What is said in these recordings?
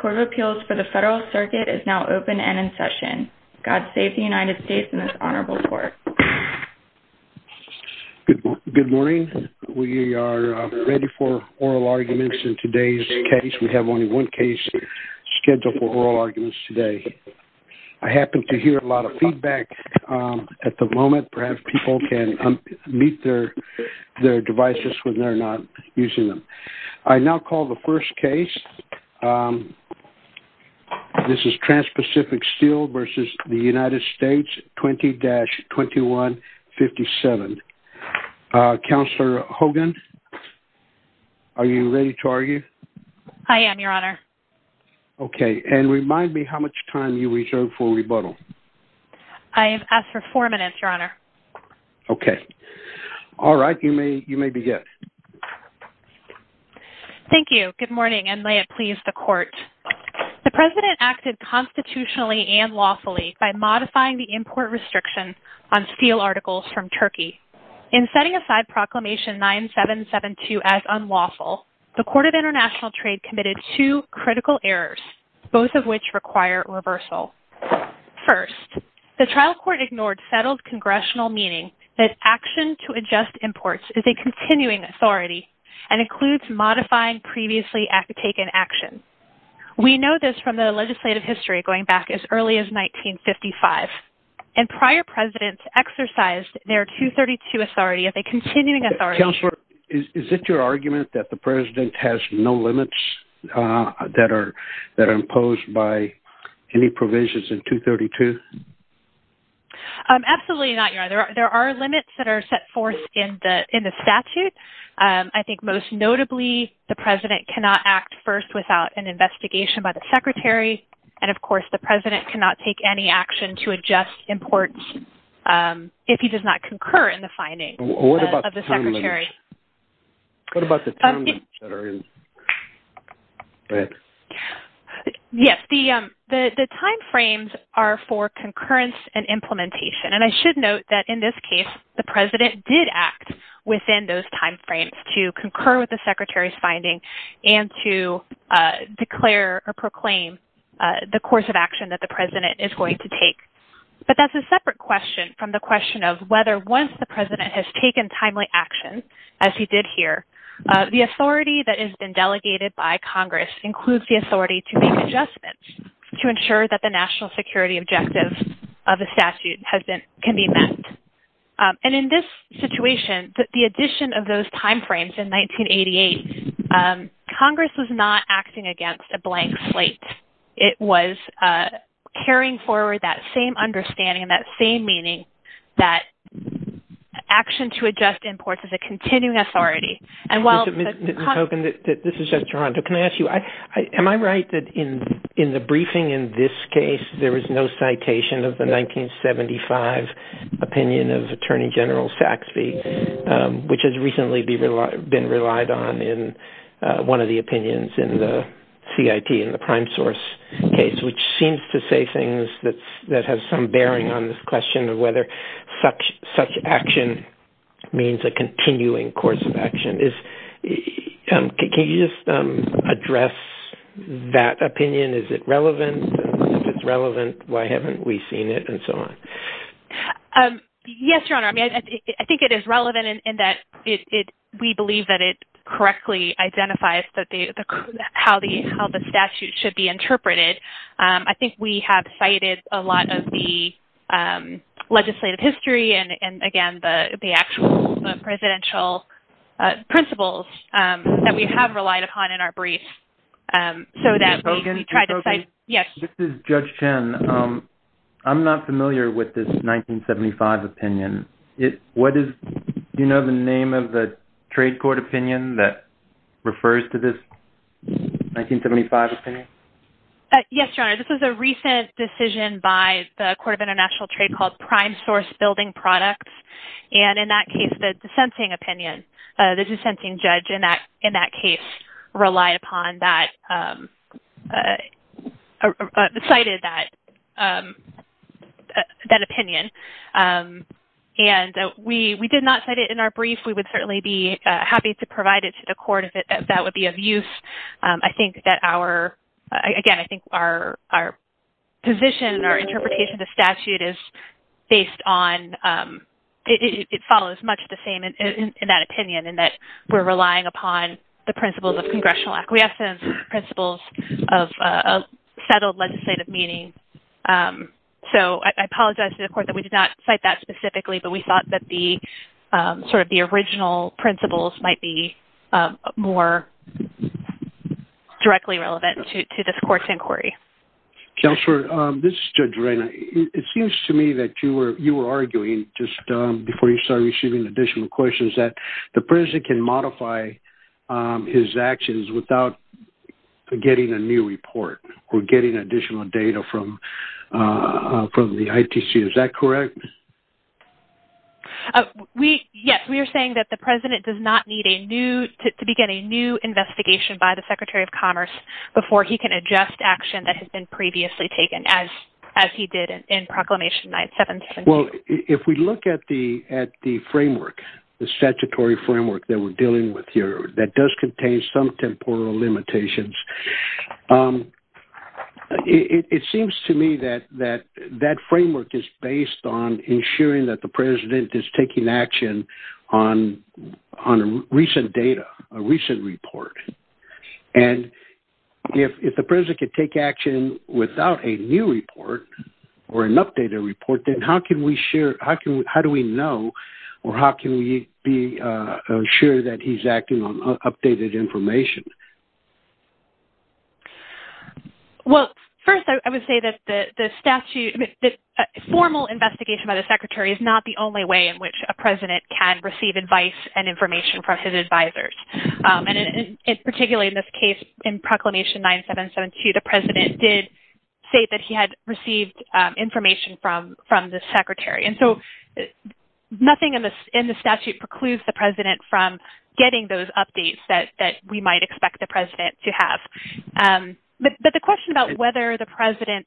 Court of Appeals for the Federal Circuit is now open and in session. God save the United States and the Honorable Court. Good morning. We are ready for oral arguments in today's case. We have only one case scheduled for oral arguments today. I happen to hear a lot of feedback at the moment. Perhaps people can unmute their devices when they're not using them. I now call the first case. This is Transpacific Steel v. United States 20-2157. Counselor Hogan, are you ready to argue? I am, Your Honor. Okay. And remind me how much time you reserve for rebuttal. I have asked for four minutes, Your Honor. Okay. All right. You may begin. Thank you. Good morning and may it please the Court. The President acted constitutionally and lawfully by modifying the import restriction on steel articles from Turkey. In setting aside Proclamation 9772 as unlawful, the Court of International Trade committed two critical errors, both of which require reversal. First, the trial court ignored settled congressional meaning that action to adjust imports is a continuing authority and includes modifying previously taken action. We know this from the legislative history going back as early as 1955. And prior presidents exercised their 232 authority of a continuing authority. Counselor, is it your argument that the President has no limits that are imposed by any provisions in 232? Absolutely not, Your Honor. There are limits that are set forth in the statute. I think most notably, the President cannot act first without an investigation by the Secretary. And of course, the President cannot take any action to adjust imports if he does not concur in the findings of the Secretary. What about the time limits? What about the time limits that are in the statute? Go ahead. Yes, the timeframes are for concurrence and implementation. And I should note that in this case, the President did act within those timeframes to concur with the Secretary's finding and to declare or proclaim the course of action that the President is going to take. But that's a separate question from the question of whether once the President has taken timely action, as he did here, the authority that has been delegated by Congress includes the authority to make adjustments to ensure that the national security objectives of the statute can be met. And in this situation, the addition of those timeframes in 1988, Congress was not acting against a blank slate. It was carrying forward that same understanding, that same meaning, that action to adjust imports is a continuing authority. And while... Mr. Hogan, this is just Toronto. Can I ask you, am I right that in the briefing in this case, there was no citation of the 1975 opinion of Attorney General Saxbe, which has recently been relied on in one of the opinions in the CIP, in the prime source case, which seems to say things that have some bearing on this question of whether such action means a continuing course of action. Can you just address that opinion? Is it relevant? If it's relevant, why haven't we seen it and so on? Yes, Your Honor. I mean, I think it is relevant in that we believe that it a lot of the legislative history and, again, the actual presidential principles that we have relied upon in our briefs so that we can try to cite... Yes. This is Judge Chen. I'm not familiar with this 1975 opinion. What is... Do you know the name of the trade court opinion that refers to this 1975 opinion? Yes, Your Honor. This is a recent decision by the Court of International Trade called Prime Source Building Products. And in that case, the dissenting opinion, the dissenting judge in that case relied upon that, cited that opinion. And we did not cite it in our brief. We would certainly be happy to provide it to the court if that would be of use. I think that our, again, I think our position or interpretation of the statute is based on... It follows much the same in that opinion in that we're relying upon the principles of congressional acquiescence, principles of settled legislative meaning. So I apologize to the court that we did not cite that specifically, but we thought that the sort of the original principles might be more directly relevant to this court's inquiry. Counselor, this is Judge Reyna. It seems to me that you were arguing just before you started issuing additional questions that the president can modify his actions without getting a new report or getting additional data from the ITC. Is that correct? Yes. We are saying that the president does not need a new... To begin a new investigation by the Secretary of Commerce before he can adjust action that has been previously taken as he did in Proclamation 976. Well, if we look at the framework, the statutory framework that we're dealing with here that does contain some temporal limitations, it seems to me that that framework is based on ensuring that the president is taking action on recent data, a recent report. And if the president could take action without a new report or an updated report, then how do we know or how can we be sure that he's acting on updated information? Well, first, I would say that the formal investigation by the Secretary is not the can receive advice and information from his advisors. And particularly in this case, in Proclamation 9772, the president did say that he had received information from the secretary. And so nothing in the statute precludes the president from getting those updates that we might expect the president to have. But the question about whether the president...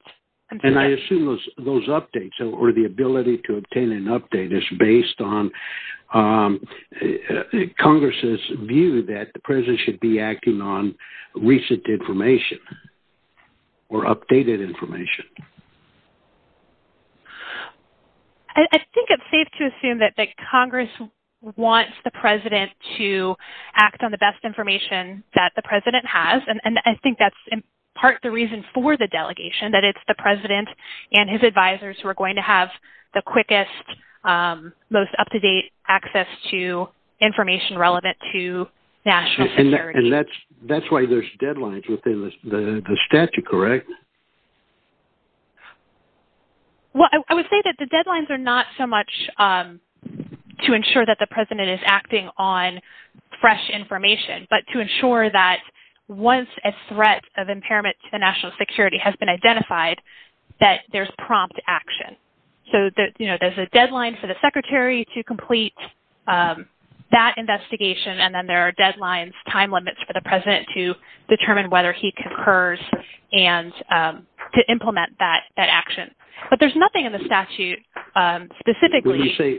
I assume those updates or the ability to obtain an update is based on Congress's view that the president should be acting on recent information or updated information. I think it's safe to assume that Congress wants the president to act on the best information that the president has. And I think that's in part the reason for the delegation, that it's the president and his advisors who are going to have the quickest, most up-to-date access to information relevant to national security. And that's why there's deadlines within the statute, correct? Well, I would say that the deadlines are not so much to ensure that the president is acting on fresh information, but to ensure that once a threat of impairment to the national security has been identified, that there's prompt action. So there's a deadline for the secretary to complete that investigation, and then there are deadlines, time limits for the president to determine whether he concurs and to implement that action. But there's nothing in the statute specifically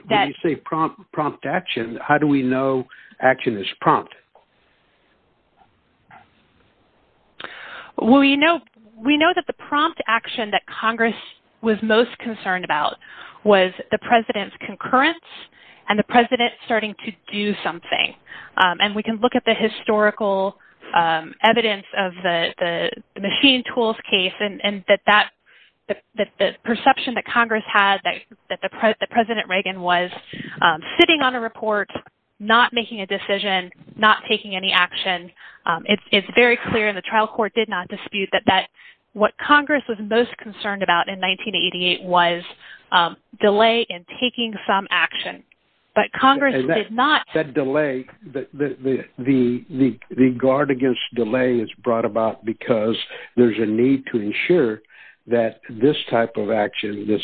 that... When you say prompt action, how do we know action is prompt? Well, we know that the prompt action that Congress was most concerned about was the president's concurrence and the president starting to do something. And we can look at the historical evidence of the machine tools case and that the perception that Congress had that the president Reagan was sitting on a report, not making a decision, not making a decision, not taking any action. It's very clear in the trial court did not dispute that what Congress was most concerned about in 1988 was delay in taking some action, but Congress did not... That delay, the guard against delay is brought about because there's a need to ensure that this type of action, this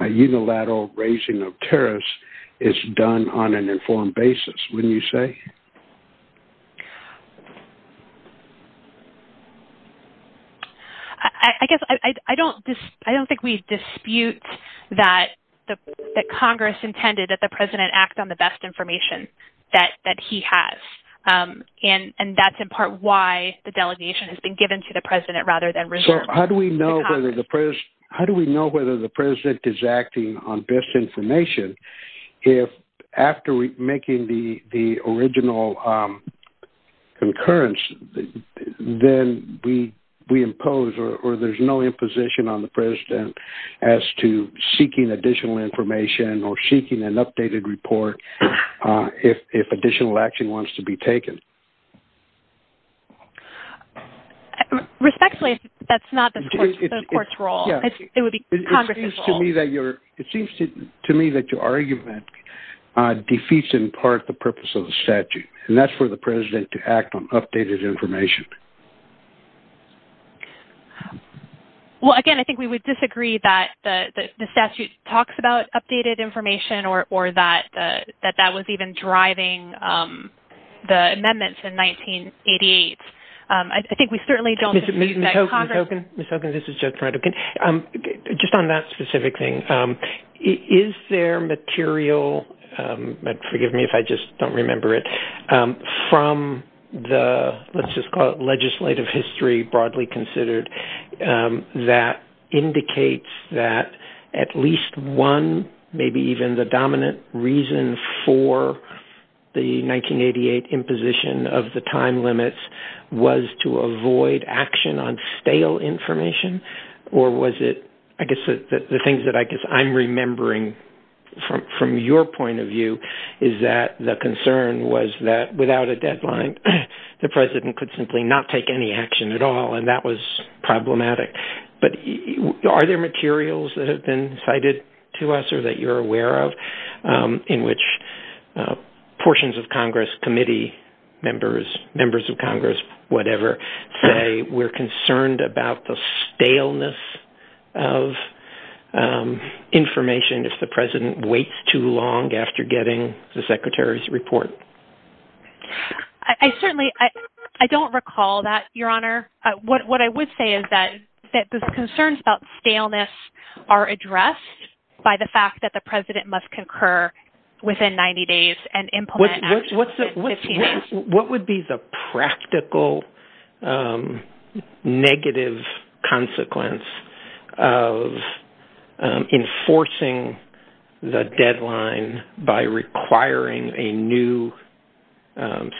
unilateral raising of tariffs is done on an informed basis, wouldn't you say? I guess I don't think we dispute that Congress intended that the president act on the best information that he has. And that's in part why the delegation has been given to the president rather than reserved. How do we know whether the president is acting on best information if after making the original concurrence, then we impose or there's no imposition on the president as to seeking additional information or seeking an updated report if additional action wants to be taken? Respectfully, that's not the court's role. It would be Congress's role. It seems to me that your argument defeats in part the purpose of the statute and that's for the president to act on updated information. Well, again, I think we would disagree that the statute talks about updated information or that that was even driving the amendments in 1988. I think we certainly don't... Ms. Hogan, Ms. Hogan, Ms. Hogan, this is Jeff Hrodek. Just on that specific thing, is there material, forgive me if I just don't remember it, from the, let's just call it legislative history broadly considered, that indicates that at least one, maybe even the information or was it, I guess, the things that I guess I'm remembering from your point of view is that the concern was that without a deadline, the president could simply not take any action at all and that was problematic. But are there materials that have been cited to us or that you're aware of in which portions of Congress committee members, members of Congress, whatever, say we're concerned about the staleness of information if the president waits too long after getting the secretary's report? I certainly, I don't recall that, Your Honor. What I would say is that the concerns about staleness are addressed by the fact that the president must concur within 90 days and implement... What would be the practical negative consequence of enforcing the deadline by requiring a new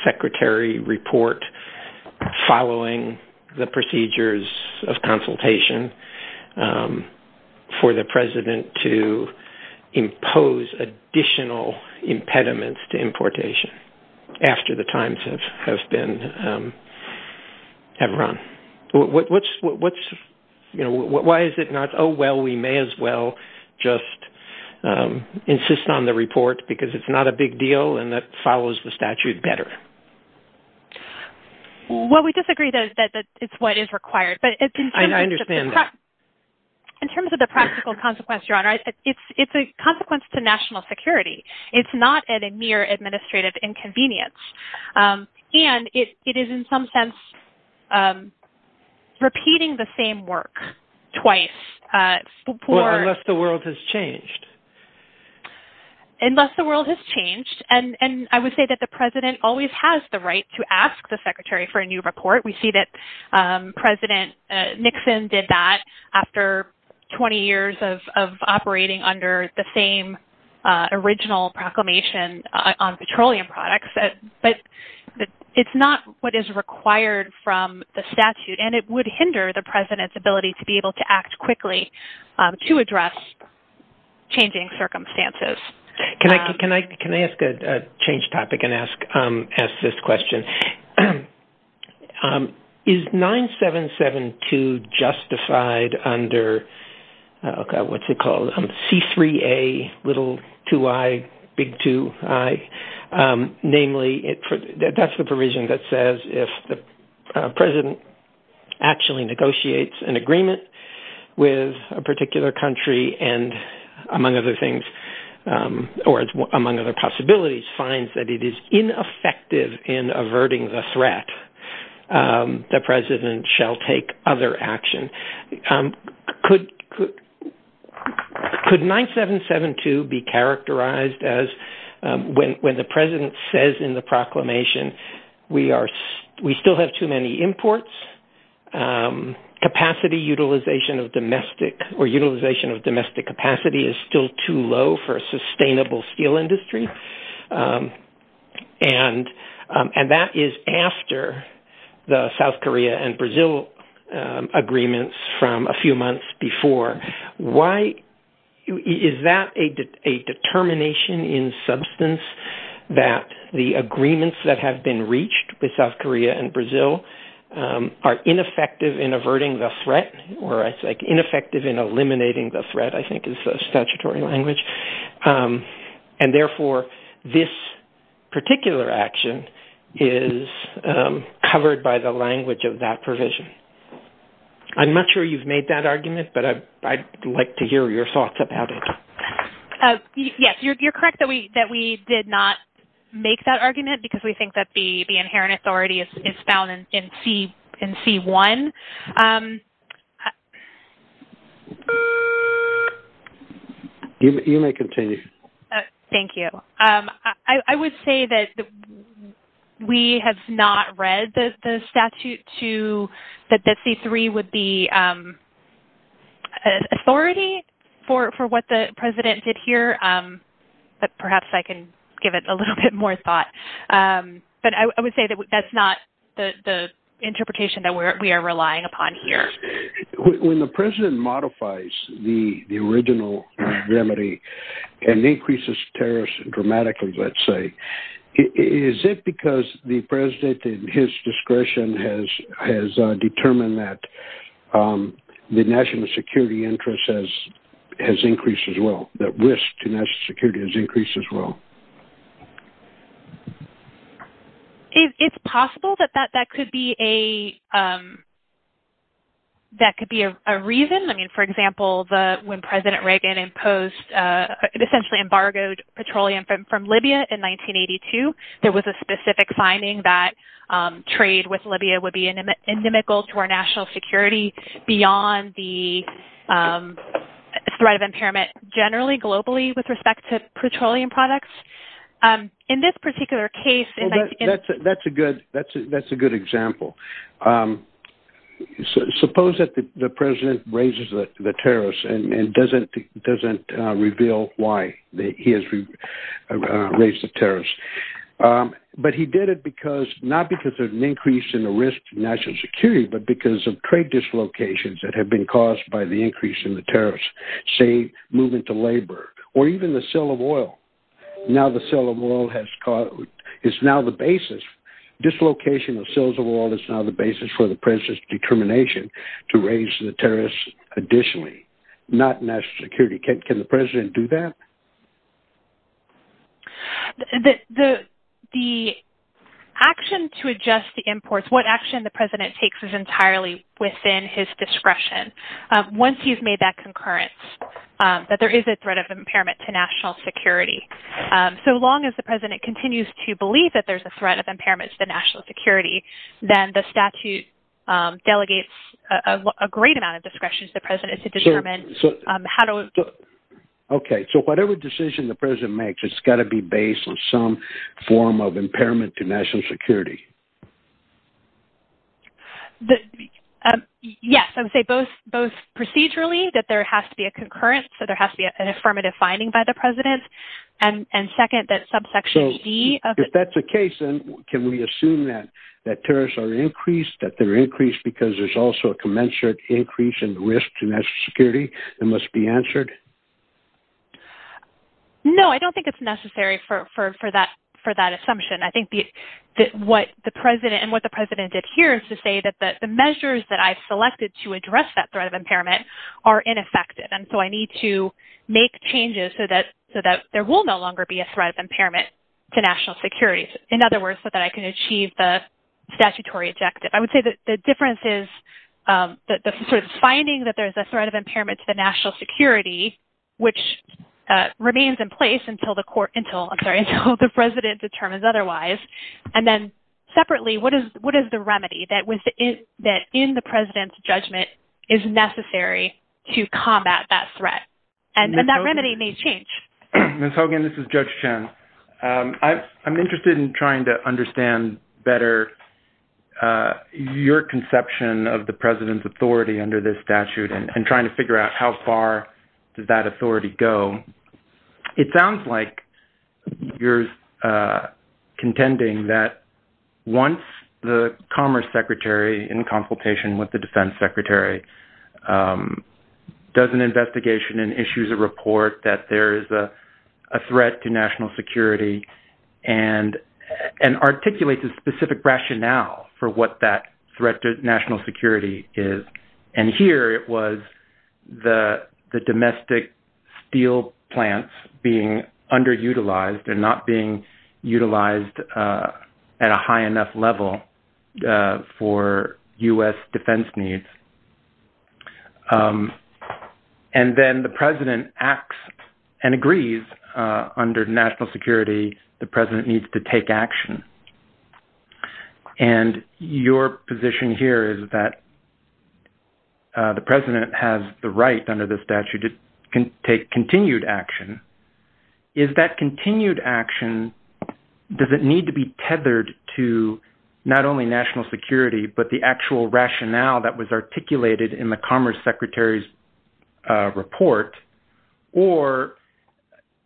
secretary report following the procedures of consultation for the president to importation after the times have run? Why is it not, oh, well, we may as well just insist on the report because it's not a big deal and that follows the statute better? Well, we disagree that it's what is required, but... I understand that. In terms of the practical consequence, Your Honor, it's a consequence to national security. It's not at a mere administrative inconvenience. And it is, in some sense, repeating the same work twice before... Unless the world has changed. Unless the world has changed. And I would say that the president always has the right to ask the secretary for a new report. We see that President Nixon did that after 20 years of original proclamation on petroleum products, but it's not what is required from the statute. And it would hinder the president's ability to be able to act quickly to address changing circumstances. Can I ask a changed topic and ask this question? Is 9772 justified under, what's it called, C3A, little 2I, big 2I? Namely, that's the provision that says if the president actually negotiates an agreement with a particular country and, among other things, or among other possibilities, finds that it is ineffective in averting the threat, the president shall take other action. Could 9772 be characterized as when the president says in the proclamation, we still have too many imports? Capacity utilization of domestic or utilization of domestic capacity is still too low for a country. And that is after the South Korea and Brazil agreements from a few months before. Is that a determination in substance that the agreements that have been reached with South Korea and Brazil are ineffective in averting the threat or ineffective in eliminating the threat, I think is the statutory language. And therefore, this particular action is covered by the language of that provision. I'm not sure you've made that argument, but I'd like to hear your thoughts about it. Yes, you're correct that we did not make that argument because we think that the President did not make that argument. You may continue. Thank you. I would say that we have not read the statute to that the C-3 would be authority for what the president did here. But perhaps I can give it a little bit more thought. But I would say that that's not the interpretation that we are relying upon here. When the president modifies the original remedy and increases terrorists dramatically, let's say, is it because the president and his discretion has determined that the national security interests has increased as well, that risk to national security has increased as well? It's possible that that could be a reason. I mean, for example, when President Reagan imposed essentially embargoed petroleum from Libya in 1982, there was a specific finding that trade with Libya would be inimical to our national security beyond the threat of impairment generally globally with respect to petroleum products. In this particular case... That's a good example. Suppose that the president raises the terrorists and doesn't reveal why he has raised the terrorists. But he did it because not because of an increase in the risk to national security, but because of trade dislocations that have been caused by the increase in the terrorists, say, moving to labor, or even the sale of oil. Now the sale of oil has caused... It's now the basis. Dislocation of sales of oil is now the basis for the president's determination to raise the terrorists additionally, not national security. Can the president do that? The action to adjust the imports, what action the president takes is entirely within his discretion. Once you've made that concurrence that there is a threat of impairment to national security, so long as the president continues to believe that there's a threat of impairment to the national security, then the statute delegates a great amount of discretion to the president to determine how to... Okay. So whatever decision the president makes, it's got to be based on some form of impairment to national security. Yes. I would say both procedurally, that there has to be a concurrence, so there has to be an affirmative finding by the president. And second, that subsection E... If that's the case, then can we assume that terrorists are increased, that they're increased because there's also a commensurate increase in the risk to national security that must be answered? No, I don't think it's necessary for that assumption. I think that what the president did here is to say that the measures that I've selected to address that threat of impairment are ineffective. And so I need to make changes so that there will no longer be a threat of impairment to national security. In other words, so that I can achieve the statutory objective. I would say that the difference is the sort of finding that there's a threat of impairment to the national security, which remains in place until the president determines otherwise. And then there's a remedy that in the president's judgment is necessary to combat that threat. And that remedy may change. Ms. Hogan, this is Judge Chen. I'm interested in trying to understand better your conception of the president's authority under this statute and trying to figure out how far does that authority go. It sounds like you're contending that once the Commerce Secretary in consultation with the Defense Secretary does an investigation and issues a report that there is a threat to national security and articulates a specific rationale for what that threat to national security is. And here it was the domestic steel plants being underutilized and not being utilized at a high enough level for U.S. defense needs. And then the president acts and agrees under national security, the president needs to take action. And your position here is that the president has the right under the statute to take continued action. Is that continued action, does it need to be tethered to not only national security, but the actual rationale that was articulated in the Commerce Secretary's report? Or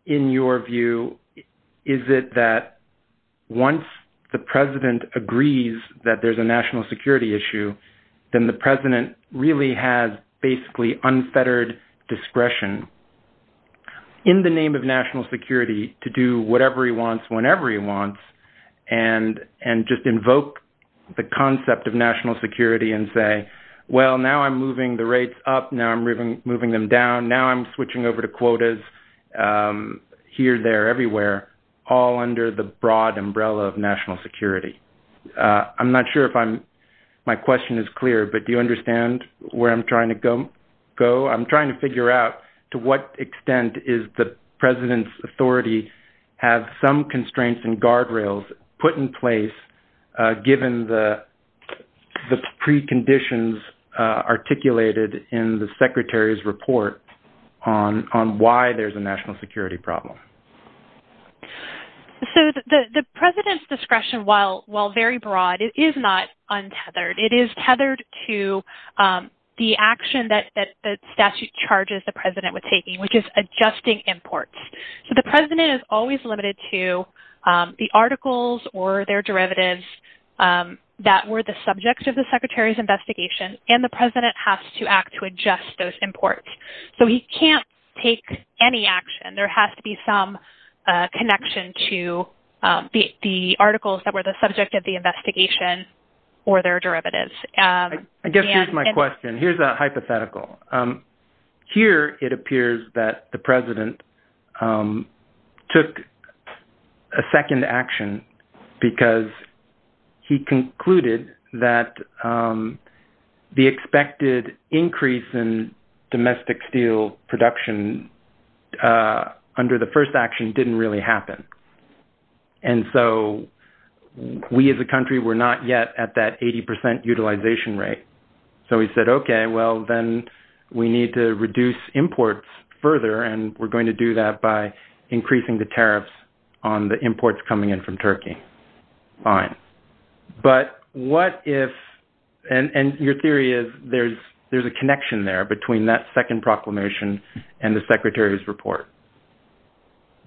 in your view, is it that once the president agrees that there's a national discretion in the name of national security to do whatever he wants whenever he wants and just invoke the concept of national security and say, well, now I'm moving the rates up, now I'm moving them down, now I'm switching over to quotas here, there, everywhere, all under the broad umbrella of national security? I'm not sure if my question is clear, but do you understand where I'm trying to go? I'm trying to figure out to what extent is the president's authority have some constraints and guardrails put in place given the preconditions articulated in the secretary's report on why there's a national security problem? So the president's discretion, while very broad, it is not untethered. It is tethered to the action that the statute charges the president with taking, which is adjusting imports. So the president is always limited to the articles or their derivatives that were the subjects of the secretary's investigation, and the president has to act to adjust those imports. So he can't take any action. There has to be some connection to the articles that were the subject of the investigation or their derivatives. I guess here's my question. Here's a hypothetical. Here it appears that the president took a second action because he concluded that the expected increase in domestic steel production under the first action didn't really happen. And so we as a country were not yet at that 80% utilization rate. So he said, okay, well, then we need to reduce imports further, and we're going to do that by increasing the tariffs on the imports coming in from Turkey. All right. But what if, and your theory is there's a connection there between that second proclamation and the secretary's report.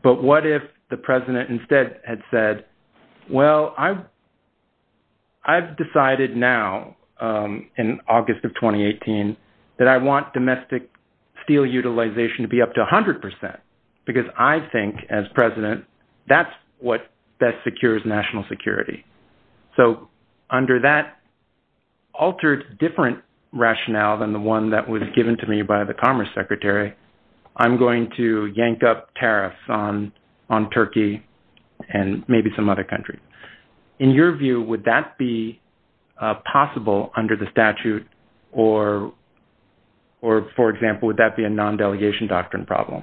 But what if the president instead had said, well, I've decided now in August of 2018 that I want domestic steel utilization to be up to 100% because I think as president, that's what best secures national security. So under that altered different rationale than the one that was given to me by the commerce secretary, I'm going to yank up tariffs on Turkey and maybe some other countries. In your view, would that be possible under the statute or, for example, would that be a non-delegation doctrine problem?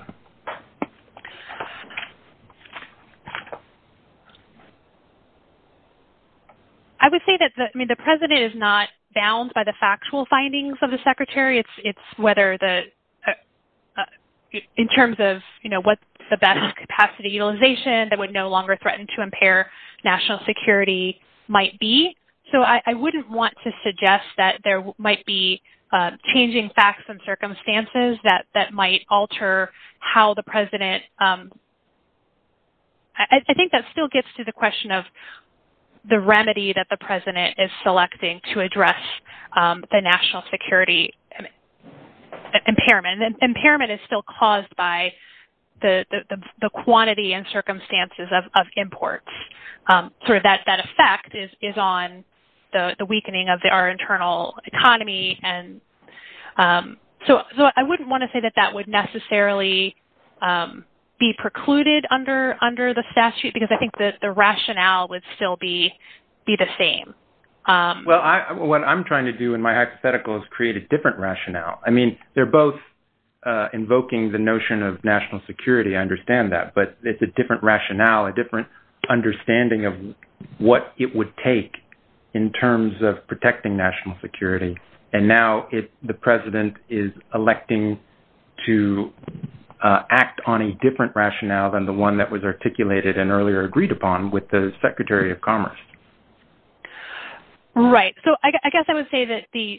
I would say that the president is not bound by the factual findings of the secretary. It's whether in terms of, you know, what's the best capacity utilization that would no longer threaten to security might be. So I wouldn't want to suggest that there might be changing facts and circumstances that might alter how the president, I think that still gets to the question of the remedy that the president is selecting to address the national security impairment. And impairment is still caused by the quantity and circumstances of imports. So that effect is on the weakening of our internal economy. So I wouldn't want to say that that would necessarily be precluded under the statute because I think that the rationale would still be the same. Well, what I'm trying to do in my hypothetical is create a different rationale. I mean, they're both invoking the notion of national security. I understand that. But it's a different rationale, a different understanding of what it would take in terms of protecting national security. And now the president is electing to act on a different rationale than the one that was articulated and earlier agreed upon with the Secretary of Commerce. Right. So I guess I would say that the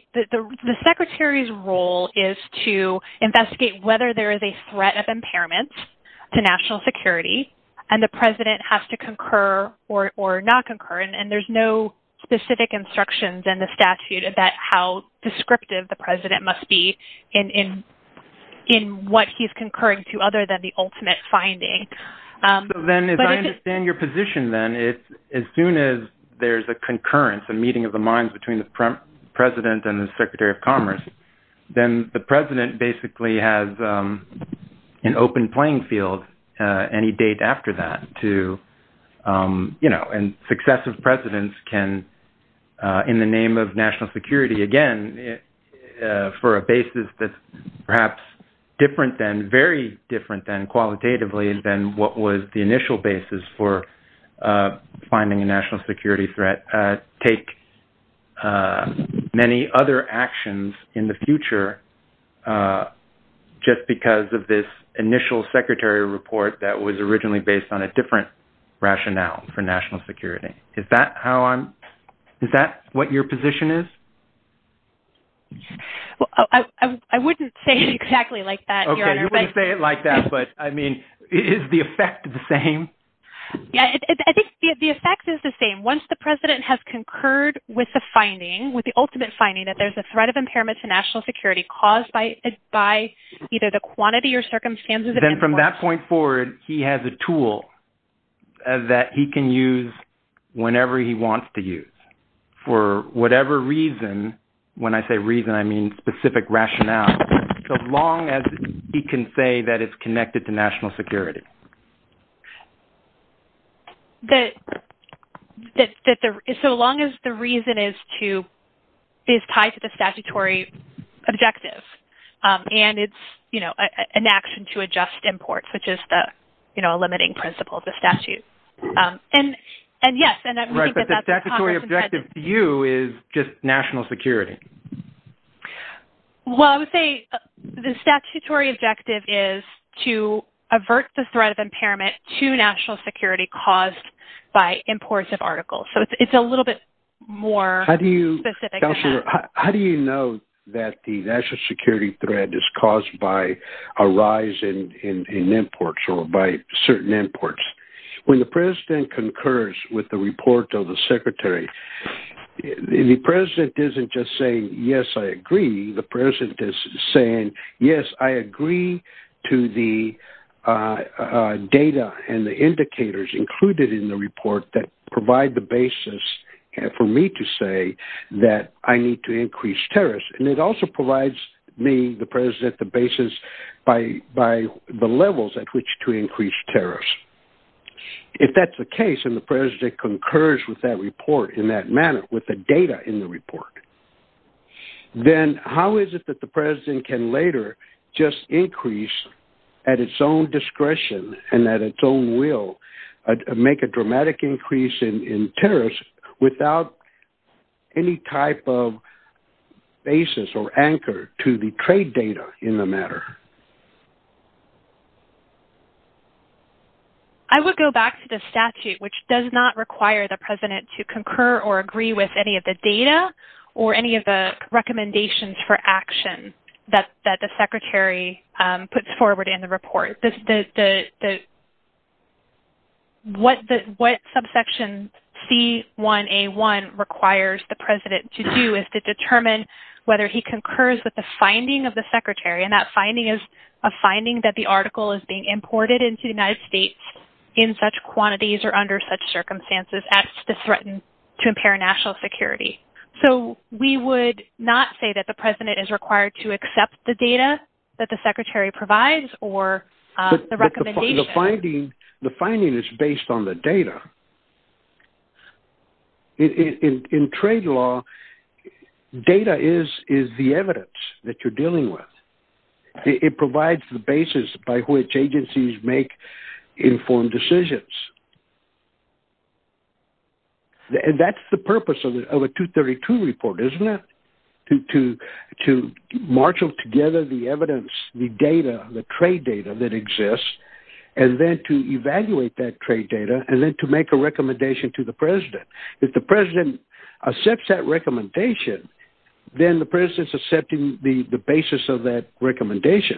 secretary's role is to investigate whether there is a threat of impairment to national security, and the president has to concur or not concur. And there's no specific instructions in the statute about how descriptive the president must be in what he's concurring to other than the ultimate finding. So then as I understand your position then, as soon as there's a concurrence, a meeting of the minds between the president and the Secretary of Commerce, an open playing field, any date after that to, you know, and successive presidents can, in the name of national security, again, for a basis that's perhaps different than, very different than qualitatively than what was the initial basis for finding a national security threat, take many other actions in the future just because of this initial secretary report that was originally based on a different rationale for national security. Is that how I'm, is that what your position is? Well, I wouldn't say exactly like that. Okay, you wouldn't say it like that, but I mean, is the effect the same? Yeah, I think the effect is the same. Once the president has concurred with the finding, with the ultimate finding that there's a threat of impairment to national security caused by either the quantity or circumstances... Then from that point forward, he has a tool that he can use whenever he wants to use for whatever reason, when I say reason, I mean specific rationale, as long as he can say that it's connected to national security. So long as the reason is to, is tied to the statutory objective and it's an action to adjust imports, which is the limiting principle of the statute. And yes, and I think that that's... Right, but the statutory objective to you is just national security. Well, I would say the statutory objective is to avert the threat of impairment to national security caused by imports of articles. So it's a little bit more specific. How do you know that the national security threat is caused by a rise in imports or by certain imports? When the president concurs with the report of the secretary, the president isn't just saying, yes, I agree. The president is saying, yes, I agree to the data and the indicators included in the report that provide the basis for me to say that I need to increase tariffs. And it also provides me, the president, the basis by the levels at which to increase tariffs. If that's the case and the president concurs with that report in that manner with the data in the report, then how is it that the president can later just increase at its own discretion and at its own will, make a dramatic increase in tariffs without any type of basis or anchor to the trade data in the matter? I would go back to the statute, which does not require the president to concur or agree with any of the data or any of the recommendations for action that the secretary puts forward in the report. What subsection C1A1 requires the president to do is to determine whether he concurs with the finding of the secretary. And that finding is a finding that the article is imported into the United States in such quantities or under such circumstances as to threaten to impair national security. So we would not say that the president is required to accept the data that the secretary provides or the recommendation. The finding is based on the data. In trade law, data is the evidence that you're dealing with. It provides the basis by which agencies make informed decisions. And that's the purpose of a 232 report, isn't it, to marshal together the evidence, the data, the trade data that exists, and then to evaluate that trade data, and then to make a recommendation to the president. If the president accepts that recommendation, then the president's accepting the basis of that recommendation.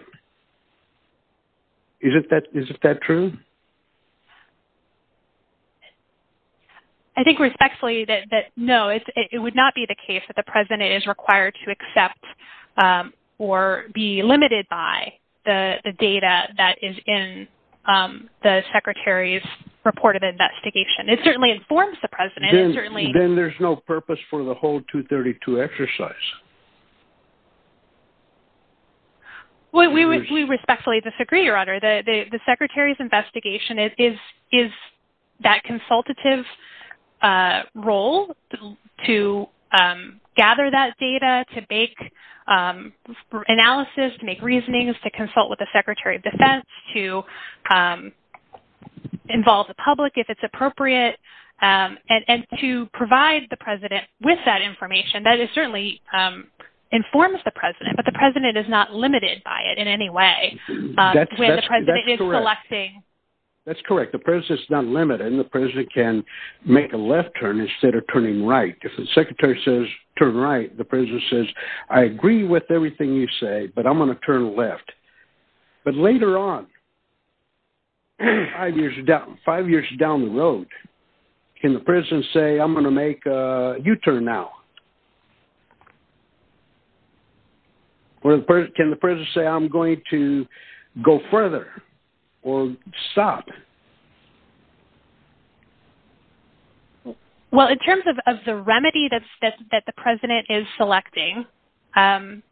Is that true? I think respectfully that no, it would not be the case that the president is required to accept or be limited by the data that is in the secretary's report of investigation. It certainly informs the president. Then there's no purpose for the 232 exercise. We respectfully disagree, Your Honor. The secretary's investigation is that consultative role to gather that data, to make analysis, to make reasonings, to consult with the secretary of defense, to involve the public if it's appropriate, and to provide the president with that information. That certainly informs the president, but the president is not limited by it in any way. That's correct. The president's not limited. The president can make a left turn instead of turning right. If the secretary says, turn right, the president says, I agree with everything you say, but I'm going to turn left. But later on, five years down the road, can the president say, I'm going to make a U-turn now? Can the president say, I'm going to go further or stop? Well, in terms of the remedy that the president is selecting,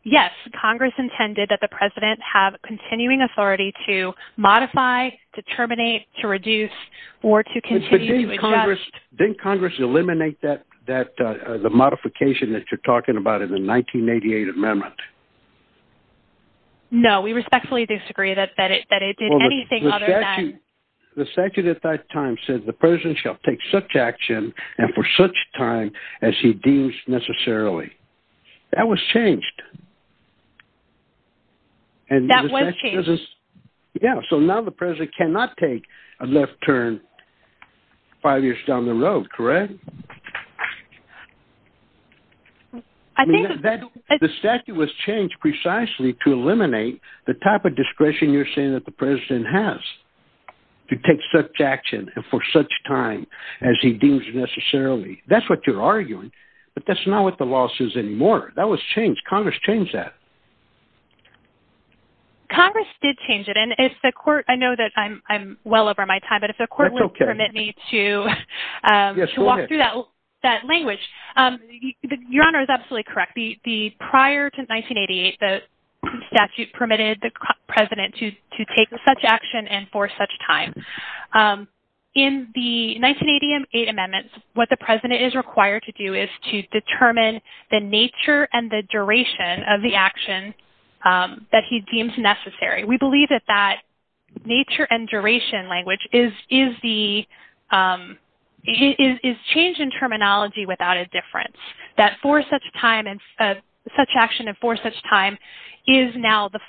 yes, Congress intended that the president have continuing authority to modify, to terminate, to reduce, or to continue to address... Didn't Congress eliminate the modification that you're talking about in the 1988 amendment? No, we respectfully disagree that it did anything other than... The statute at that time said the president shall take such action, and for such time as he deems necessarily. That was changed. That was changed. Yeah. So now the president cannot take a left turn five years down the road, correct? The statute was changed precisely to eliminate the type of discretion you're saying that the president has to take such action and for such time as he deems necessarily. That's what you're arguing, but that's not what the law says anymore. That was changed. Congress changed that. Congress did change it. And if the court... I know that I'm well over my time, but if the court will permit me to walk through that language. Your honor is absolutely correct. Prior to 1988, the statute permitted the president to take such action and for such time. In the 1988 amendments, what the president is required to do is to determine the nature and the duration of the action that he deems necessary. We believe that that nature and duration language is change in terminology without a difference. That for such time and such action and for such time is now the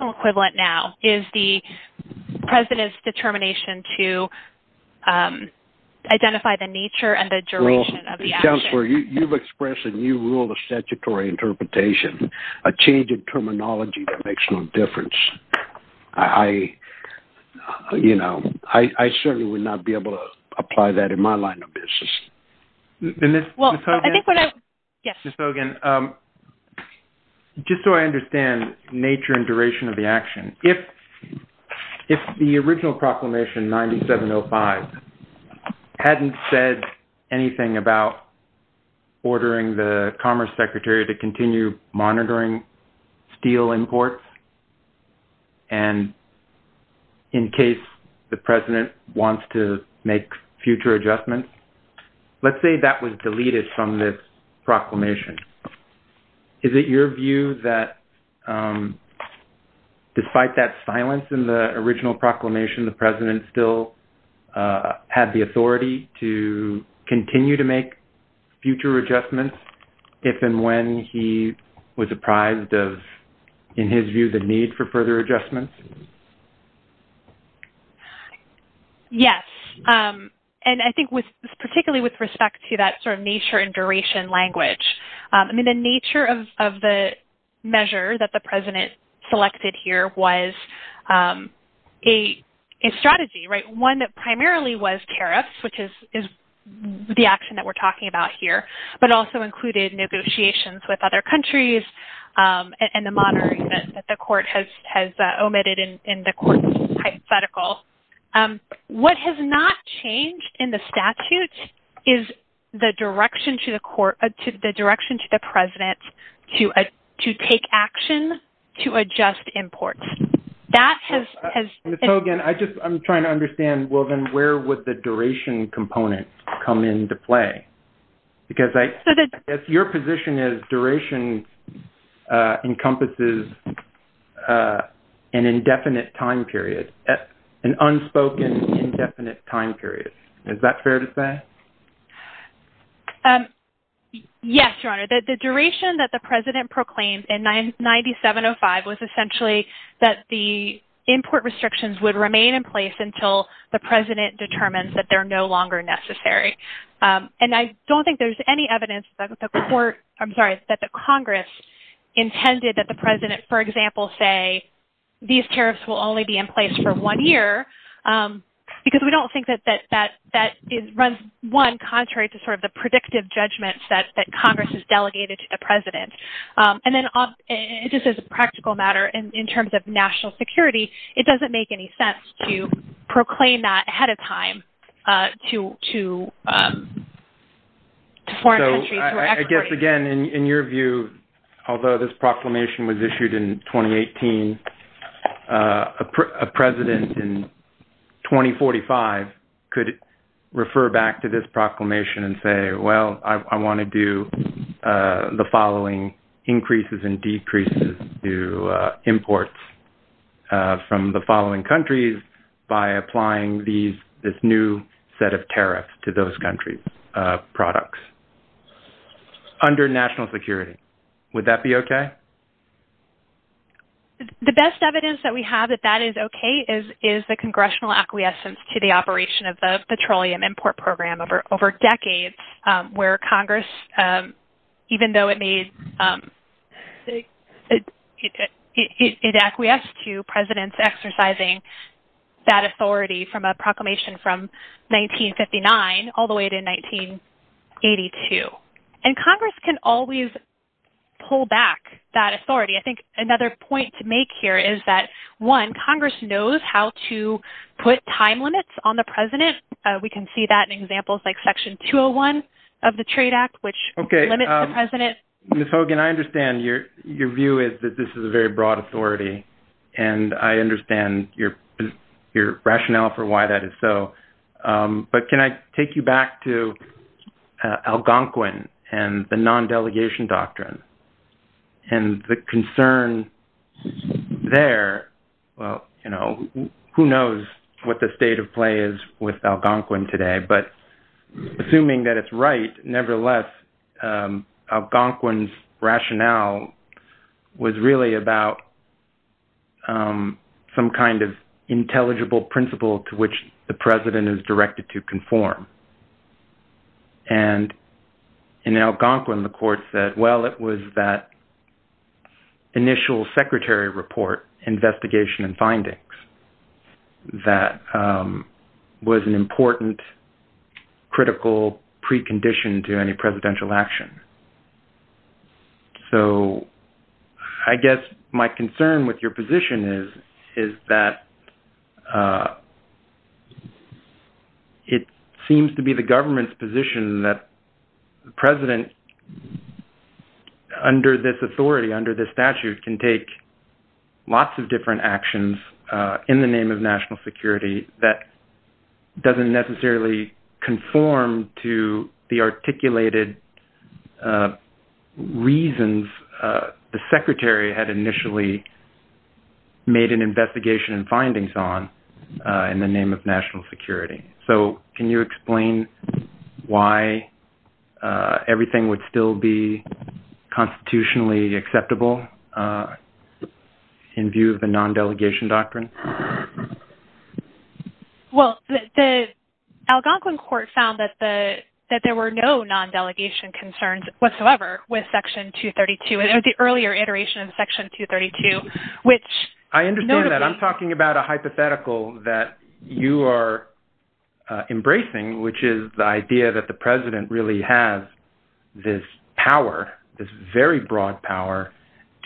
equivalent now is the president's determination to identify the nature and the duration of the action. You've expressed a new rule of statutory interpretation, a change in terminology that makes no difference. I certainly would not be able to apply that in my line of business. Just so I understand nature and duration of the action. If the original proclamation 9705 hadn't said anything about ordering the Commerce Secretary to continue monitoring steel imports and in case the president wants to make future adjustments. Let's say that was deleted from this proclamation. Is it your view that despite that silence in the original proclamation, the president still had the authority to continue to make future adjustments if and when he was apprised of in his view the need for further adjustments? Yes. I think particularly with respect to that nature and duration language. The nature of the measure that the president selected here was a strategy. One that primarily was tariffs, which is the action that we're talking about here, but also included negotiations with other countries and the monitoring that the court has omitted in the court hypothetical. What has not changed in the statute is the direction to the president to take action to adjust imports. I'm trying to understand where would the duration component come into play? Because if your position is duration encompasses an indefinite time period, an unspoken indefinite time period. Is that fair to say? Yes, your honor. The duration that the president proclaimed in 9705 was essentially that the import restrictions would remain in place until the president determines that they're no longer necessary. I don't think there's any evidence that the Congress intended that the president, for example, say these tariffs will only be in place for one year. Because we don't think that that runs one contrary to sort of the predictive judgments that Congress has delegated to the president. Then just as a practical matter, in terms of national security, it doesn't make any sense to proclaim that ahead of time to foreign countries. I guess again, in your view, although this proclamation was issued in 2018, a president in 2045 could refer back to this proclamation and say, well, I want to do the following increases and decreases to imports from the following countries by applying this new set of tariffs to those countries products. Under national security, would that be okay? The best evidence that we have that that is okay is the congressional acquiescence to the operation of the petroleum import program over decades, where Congress, even though it may acquiesce to presidents exercising that authority from a proclamation from 1959 all the way to 1980. Congress can always pull back that authority. I think another point to make here is that, one, Congress knows how to put time limits on the president. We can see that in examples like Section 201 of the Trade Act, which limits the president. Ms. Hogan, I understand your view is that this is a very broad authority. I understand your rationale for why that is so. Can I take you back to Algonquin and the non-delegation doctrine and the concern there? Well, who knows what the state of play is with Algonquin today, but assuming that it is right, nevertheless, Algonquin's rationale was really about some kind of intelligible principle to which the president is directed to conform. In Algonquin, the court said, well, it was that initial secretary report investigation and findings that was an important critical precondition to any presidential action. So, I guess my concern with your position is that it seems to be the government's position that the president, under this authority, under this statute, can take lots of different actions in the name of national security that doesn't necessarily conform to the articulated reasons the secretary had initially made an investigation and findings on in the name of national security. So, can you explain why everything would still be constitutionally acceptable in view of the non-delegation doctrine? Well, the Algonquin court found that there were no non-delegation concerns whatsoever with Section 232 and the earlier iteration of Section 232, which... I understand that. I'm talking about a hypothetical that you are embracing, which is the idea that the president really has this power, this very broad power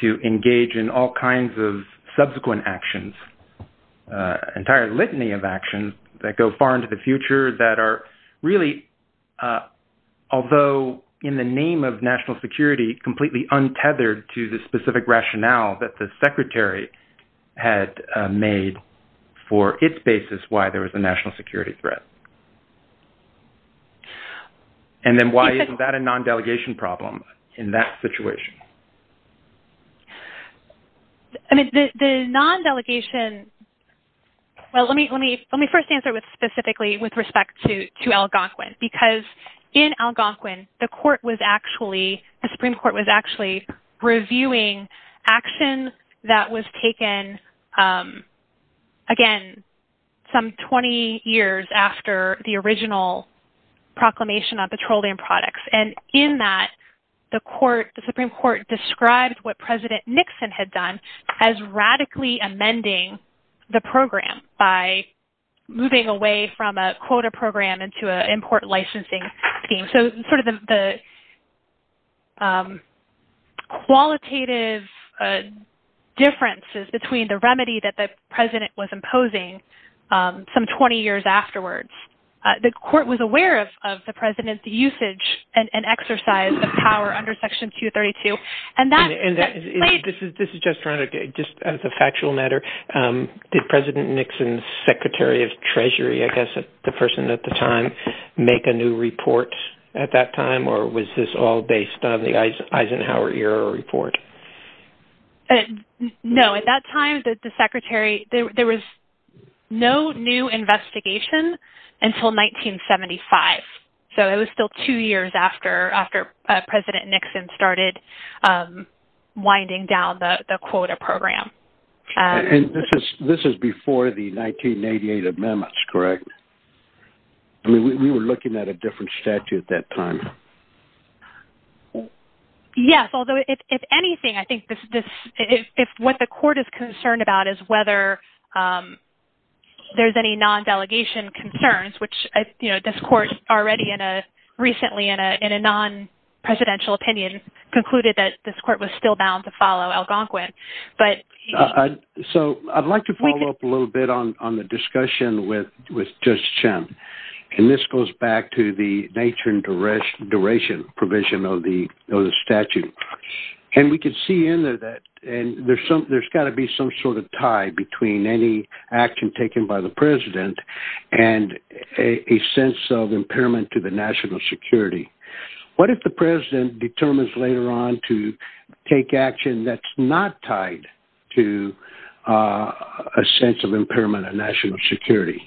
to engage in all kinds of subsequent actions, an entire litany of actions that go far into the future that are really, although in the name of national security, completely untethered to the specific rationale that the secretary had made for its basis why there was a national security threat. And then why isn't that a non-delegation problem in that situation? I mean, the non-delegation... Well, let me first answer specifically with respect to Algonquin, because in Algonquin, the Supreme Court was actually reviewing action that was taken, again, some 20 years after the original proclamation on petroleum products. And in that, the Supreme Court described what President Nixon had done as radically amending the program by moving away from a quota program into an import licensing scheme. So sort of the qualitative differences between the remedy that the president was imposing some 20 years afterwards. The court was aware of the president's usage and exercise the power under Section 232. And that... And this is just a factual matter. Did President Nixon's secretary of treasury, I guess, the person at the time, make a new report at that time? Or was this all based on the Eisenhower era report? No, at that time, the secretary, there was no new investigation. Until 1975. So it was still two years after President Nixon started winding down the quota program. And this is before the 1988 amendments, correct? I mean, we were looking at a different statute at that time. Yes. Although if anything, I think what the court is concerned about is whether there's any non-delegation concerns, which, you know, this court already in a... Recently in a non-presidential opinion concluded that this court was still bound to follow Algonquin. But... So I'd like to follow up a little bit on the discussion with Judge Chen. And this goes back to the nature and duration provision of the statute. And we can see in there that... And there's got to be some sort of tie between any action taken by the president and a sense of impairment to the national security. What if the president determines later on to take action that's not tied to a sense of impairment on national security?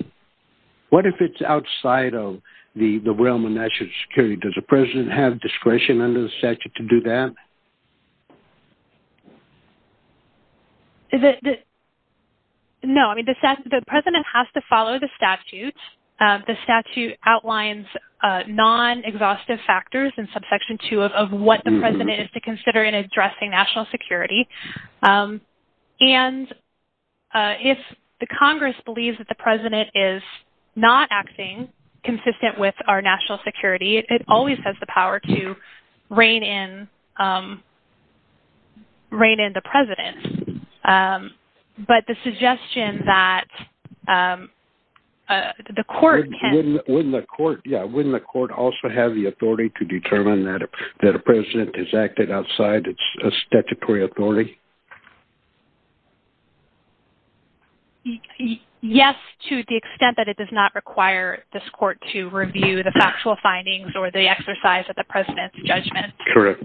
What if it's outside of the realm of national security? Does the president have discretion under the statute to do that? Is it... No. I mean, the president has to follow the statute. The statute outlines non-exhaustive factors in subsection two of what the president is to consider in addressing national security. And if the Congress believes that the president is not acting consistent with our national security, it always has the power to rein in the president. But the suggestion that the court can... Wouldn't the court also have the authority to determine that a president has acted outside its statutory authority? Yes, to the extent that it does not require this court to review the factual findings or the exercise of the president's judgment. Correct.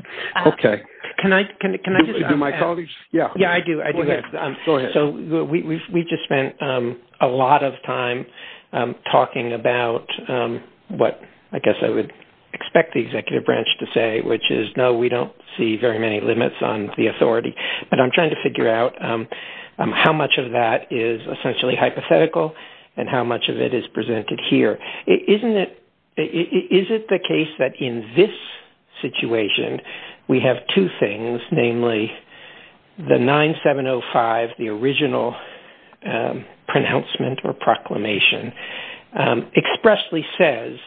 Okay. Can I just... Do my colleagues... Yeah. Yeah, I do. I do. So we just spent a lot of time talking about what I guess I would expect the executive branch to say, which is, no, we don't see very many limits on the authority. But I'm trying to figure out how much of that is essentially hypothetical and how much of it is presented here. Isn't it... Is it the case that in this situation, we have two things, namely the 9705, the original pronouncement or proclamation, expressly says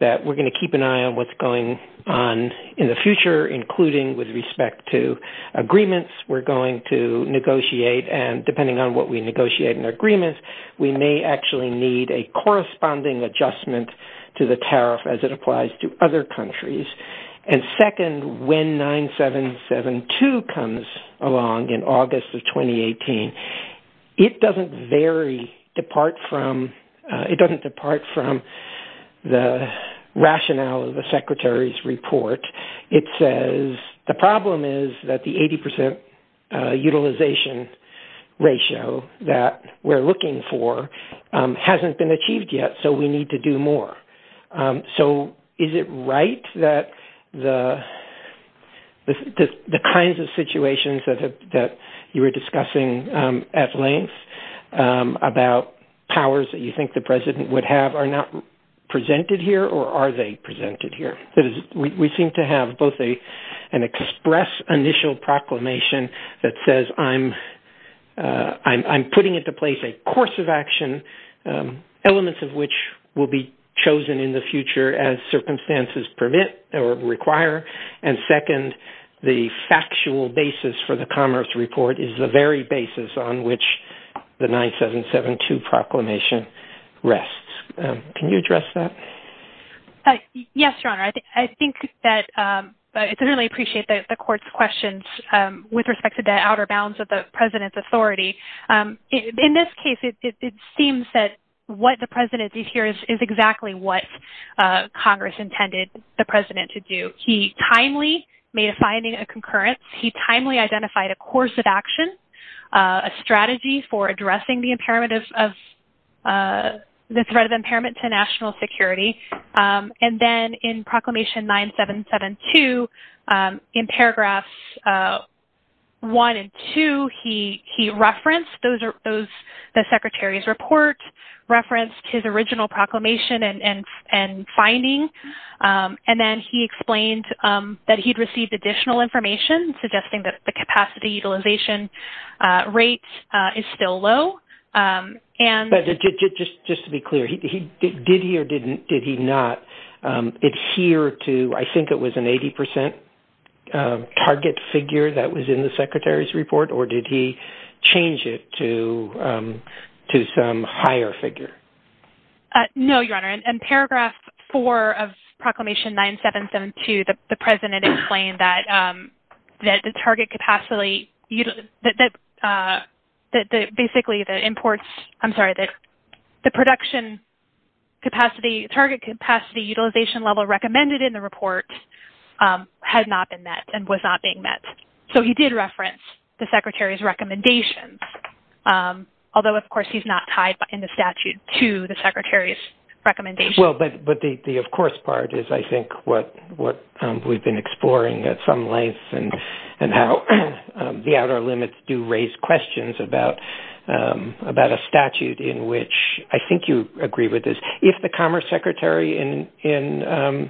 that we're going to keep an eye on what's going on in the future, including with respect to agreements. We're going to negotiate and depending on what we negotiate in agreements, we may actually need a corresponding adjustment to the tariff as it applies to other countries. And second, when 9772 comes along in August of 2018, it doesn't vary depart from... It doesn't depart from the rationale of the secretary's report. It says, the problem is that the 80% utilization ratio that we're looking for hasn't been achieved yet, so we need to do more. So is it right that the kinds of situations that you were discussing at length about powers that you think the president would have are not presented here or are they presented here? We seem to have both an express initial proclamation that says, I'm putting into place a course of action, elements of which will be chosen in the future as circumstances permit or require. And second, the factual basis for the commerce report is the very basis on which the 9772 proclamation rests. Can you address that? Yes, Your Honor. I think that... I really appreciate the court's questions with respect to the outer bounds of the president's authority. In this case, it seems that what the president did here is exactly what Congress intended the president to do. He timely made a finding and concurrence. He timely identified a course of action, a strategy for addressing the threat of impairment to national security. And then in Proclamation 9772, in paragraphs one and two, he referenced the secretary's report, referenced his original proclamation and finding. And then he explained that he'd received additional information suggesting that the capacity utilization rate is still low. But just to be clear, did he or did he not adhere to, I think it was an 80% target figure that was in the secretary's report or did he or did he not? In paragraph four of Proclamation 9772, the president explained that the target capacity, basically the imports, I'm sorry, the production capacity, target capacity utilization level recommended in the report had not been met and was not being met. So he did reference the secretary's recommendations. Although, of course, he's not tied in the statute to the secretary's recommendation. Well, but the of course part is, I think, what we've been exploring at some length and how the outer limits do raise questions about a statute in which I think you agree with this. If the Commerce Secretary in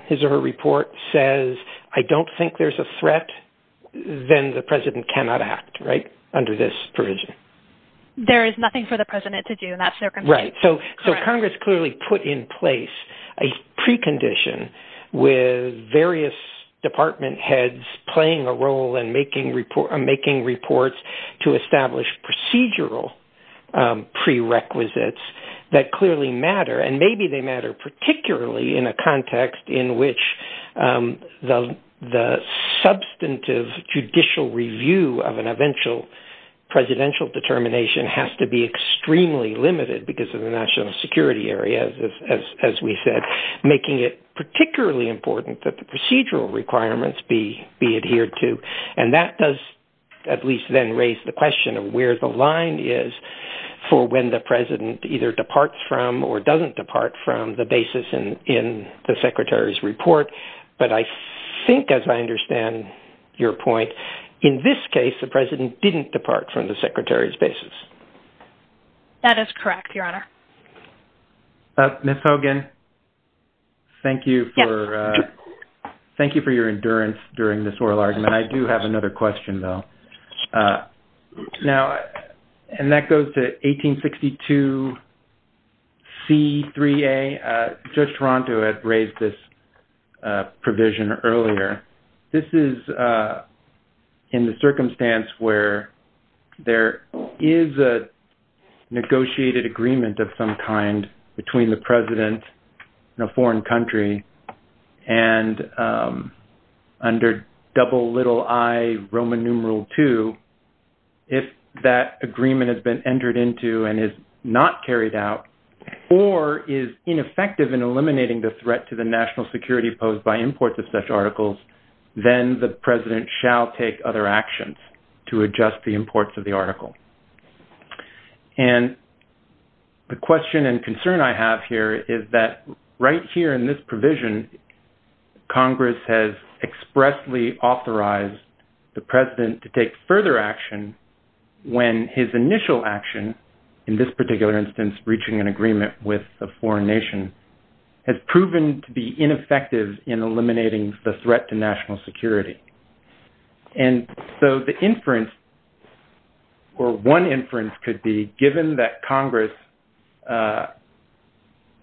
his or her report says, I don't think there's a threat, then the president cannot act, right, under this provision. There is nothing for the president to do in that circumstance. Right. So Congress clearly put in place a precondition with various department heads playing a role in making reports to establish procedural prerequisites that clearly matter. And maybe they matter particularly in a context in which the substantive judicial review of an presidential determination has to be extremely limited because of the national security areas, as we said, making it particularly important that the procedural requirements be adhered to. And that does at least then raise the question of where the line is for when the president either departs from or doesn't depart from the basis in the secretary's report. But I think, as I understand your point, in this case, the president didn't depart from the secretary's basis. That is correct, Your Honor. Ms. Hogan, thank you for your endurance during this oral argument. I do have another question, though. Now, and that goes to 1862C3A. Judge Toronto had raised this provision earlier. This is in the circumstance where there is a negotiated agreement of some kind between the president and a foreign country. And under double little I, Roman numeral II, if that agreement has been entered into and is not carried out, or is ineffective in eliminating the threat to the national security posed by imports of such articles, then the president shall take other actions to adjust the imports of the article. And the question and concern I have here is that right here in this provision, Congress has expressly authorized the president to take further action when his initial action, in this particular instance, reaching an agreement with a foreign nation, has proven to be ineffective in eliminating the threat to national security. And so the inference, or one inference could be given that Congress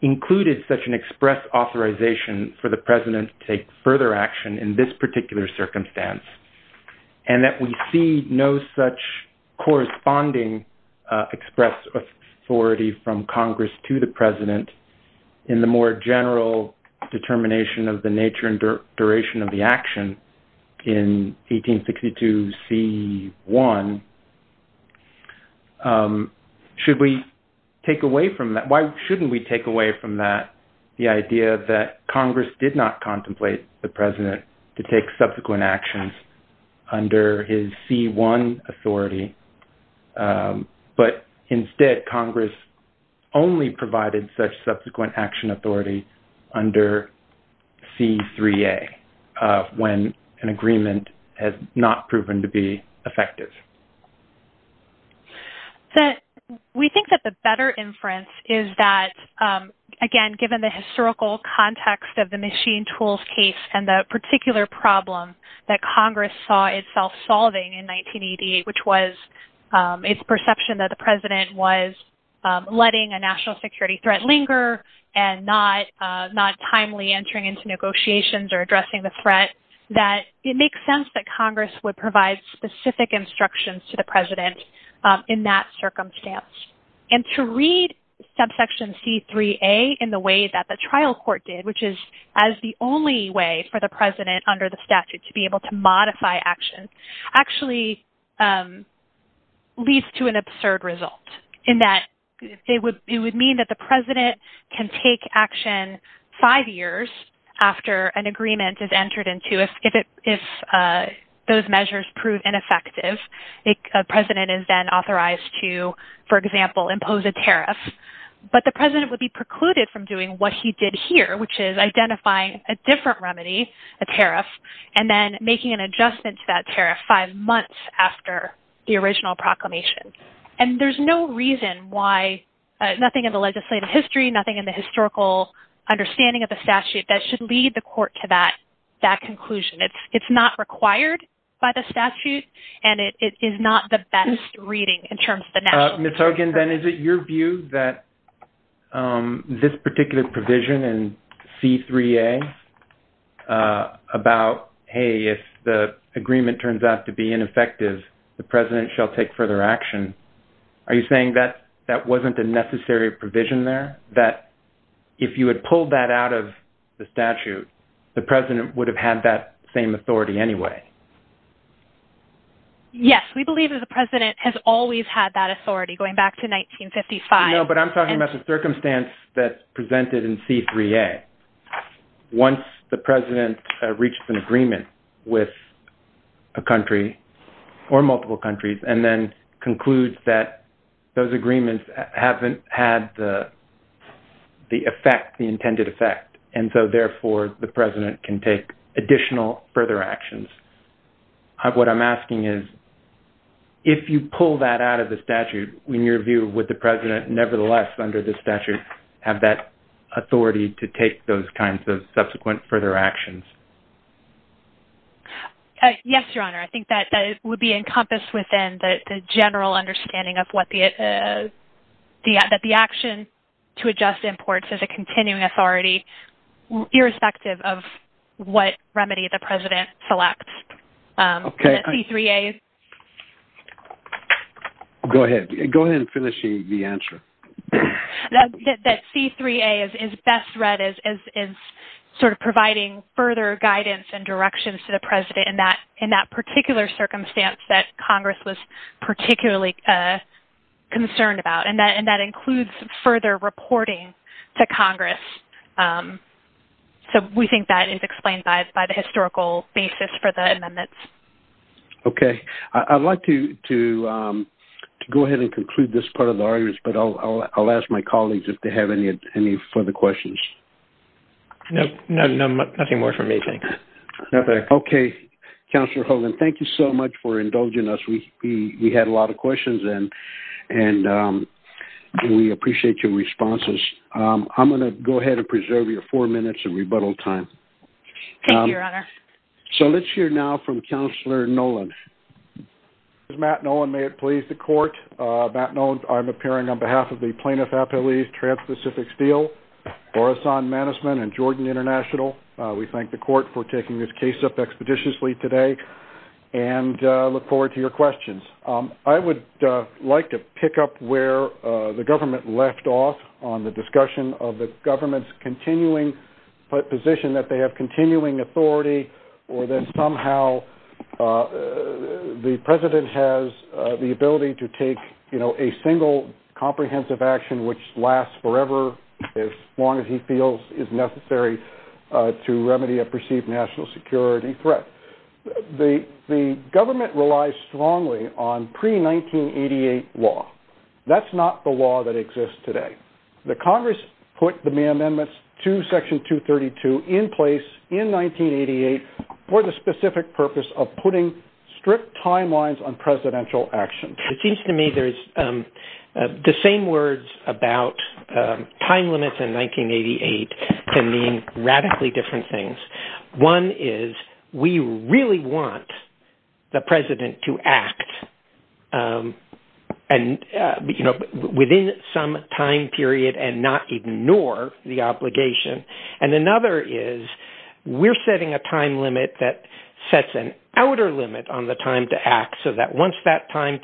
included such an express authorization for the president to take further action in this particular circumstance, and that we see no such corresponding express authority from Congress to the president in the more general determination of the nature and duration of the action, in 1862 C-1. Why shouldn't we take away from that the idea that Congress did not contemplate the president to take subsequent actions under his C-1 authority, but instead, Congress only provided such subsequent action authority under C-3A, when an agreement has not proven to be effective? We think that the better inference is that, again, given the historical context of the machine tools case and the particular problem that Congress saw itself solving in 1988, which was its perception that the president was letting a national security threat linger and not timely entering into negotiations or addressing the threat, that it makes sense that Congress would provide specific instructions to the president in that circumstance. And to read subsection C-3A in the way that the trial court did, which is as the only way for the president under the statute to be able to modify action, actually leads to an absurd result in that it would mean that the president can take action five years after an agreement is entered into if those measures prove ineffective. A president is then authorized to, for example, impose a tariff, but the president would be precluded from doing what he did here, which is identifying a different remedy, a tariff, and then making an adjustment to that tariff five months after the original proclamation. And there's no reason why, nothing in the legislative history, nothing in the historical understanding of the statute that should lead the court to that conclusion. It's not required by the statute, and it is not the best reading in terms of the national... Ms. Hogan, then, is it your view that this particular provision in C-3A about, hey, if the agreement turns out to be ineffective, the president shall take further action, are you saying that that wasn't a necessary provision there, that if you had pulled that out of the statute, the president would have had that same authority anyway? Yes, we believe that the president has always had that authority, going back to 1955. No, but I'm talking about the circumstance that's presented in C-3A. Once the president reached an agreement with a country or multiple countries and then concludes that those agreements haven't had the effect, the intended effect, and so, therefore, the president can take additional further actions. What I'm asking is, if you pull that out of the statute, in your view, would the president nevertheless, under the statute, have that authority to take those kinds of subsequent further actions? Yes, Your Honor. I think that would be encompassed within the general understanding of what the action to adjust imports as a continuing authority, irrespective of what remedy the president selects. Go ahead. Go ahead and finish the answer. That C-3A is best read as sort of providing further guidance and directions to the president in that particular circumstance that Congress was particularly concerned about, and that includes further reporting to Congress. We think that is explained by the historical basis for the amendments. Okay. I'd like to go ahead and conclude this part of the audience, but I'll ask my colleagues if Counselor Hogan, thank you so much for indulging us. We had a lot of questions, and we appreciate your responses. I'm going to go ahead and preserve your four minutes of rebuttal time. Thank you, Your Honor. So, let's hear now from Counselor Nolan. Matt Nolan, may it please the Court. Matt Nolan, I'm appearing on behalf of the Plaintiff Appeals Trans-Pacific Steel, Orison Manusman, and Jordan International. We thank the Court for taking this case up expeditiously today, and look forward to your questions. I would like to pick up where the government left off on the discussion of the government's continuing position that they have continuing authority, or that somehow the president has the ability to take a single comprehensive action which lasts forever, as long as he feels is necessary to threat. The government relies strongly on pre-1988 law. That's not the law that exists today. The Congress put the May Amendments to Section 232 in place in 1988 for the specific purpose of putting strict timelines on presidential action. It seems to me there's the same words about time limits in 1988 can mean radically different things. One is we really want the president to act within some time period and not ignore the obligation. And another is we're setting a time limit that sets an outer limit on the time to act so that once that time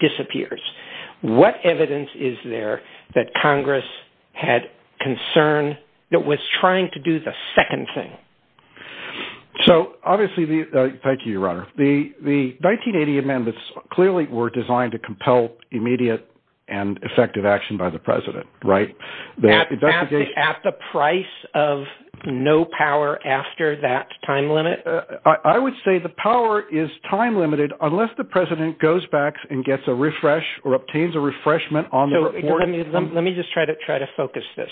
disappears. What evidence is there that Congress had concern that was trying to do the second thing? Thank you, Your Honor. The 1980 amendments clearly were designed to compel immediate and effective action by the president, right? At the price of no power after that time limit? I would say the power is time limited unless the president goes back and gets a refresh or obtains a refreshment on the report. Let me just try to focus this.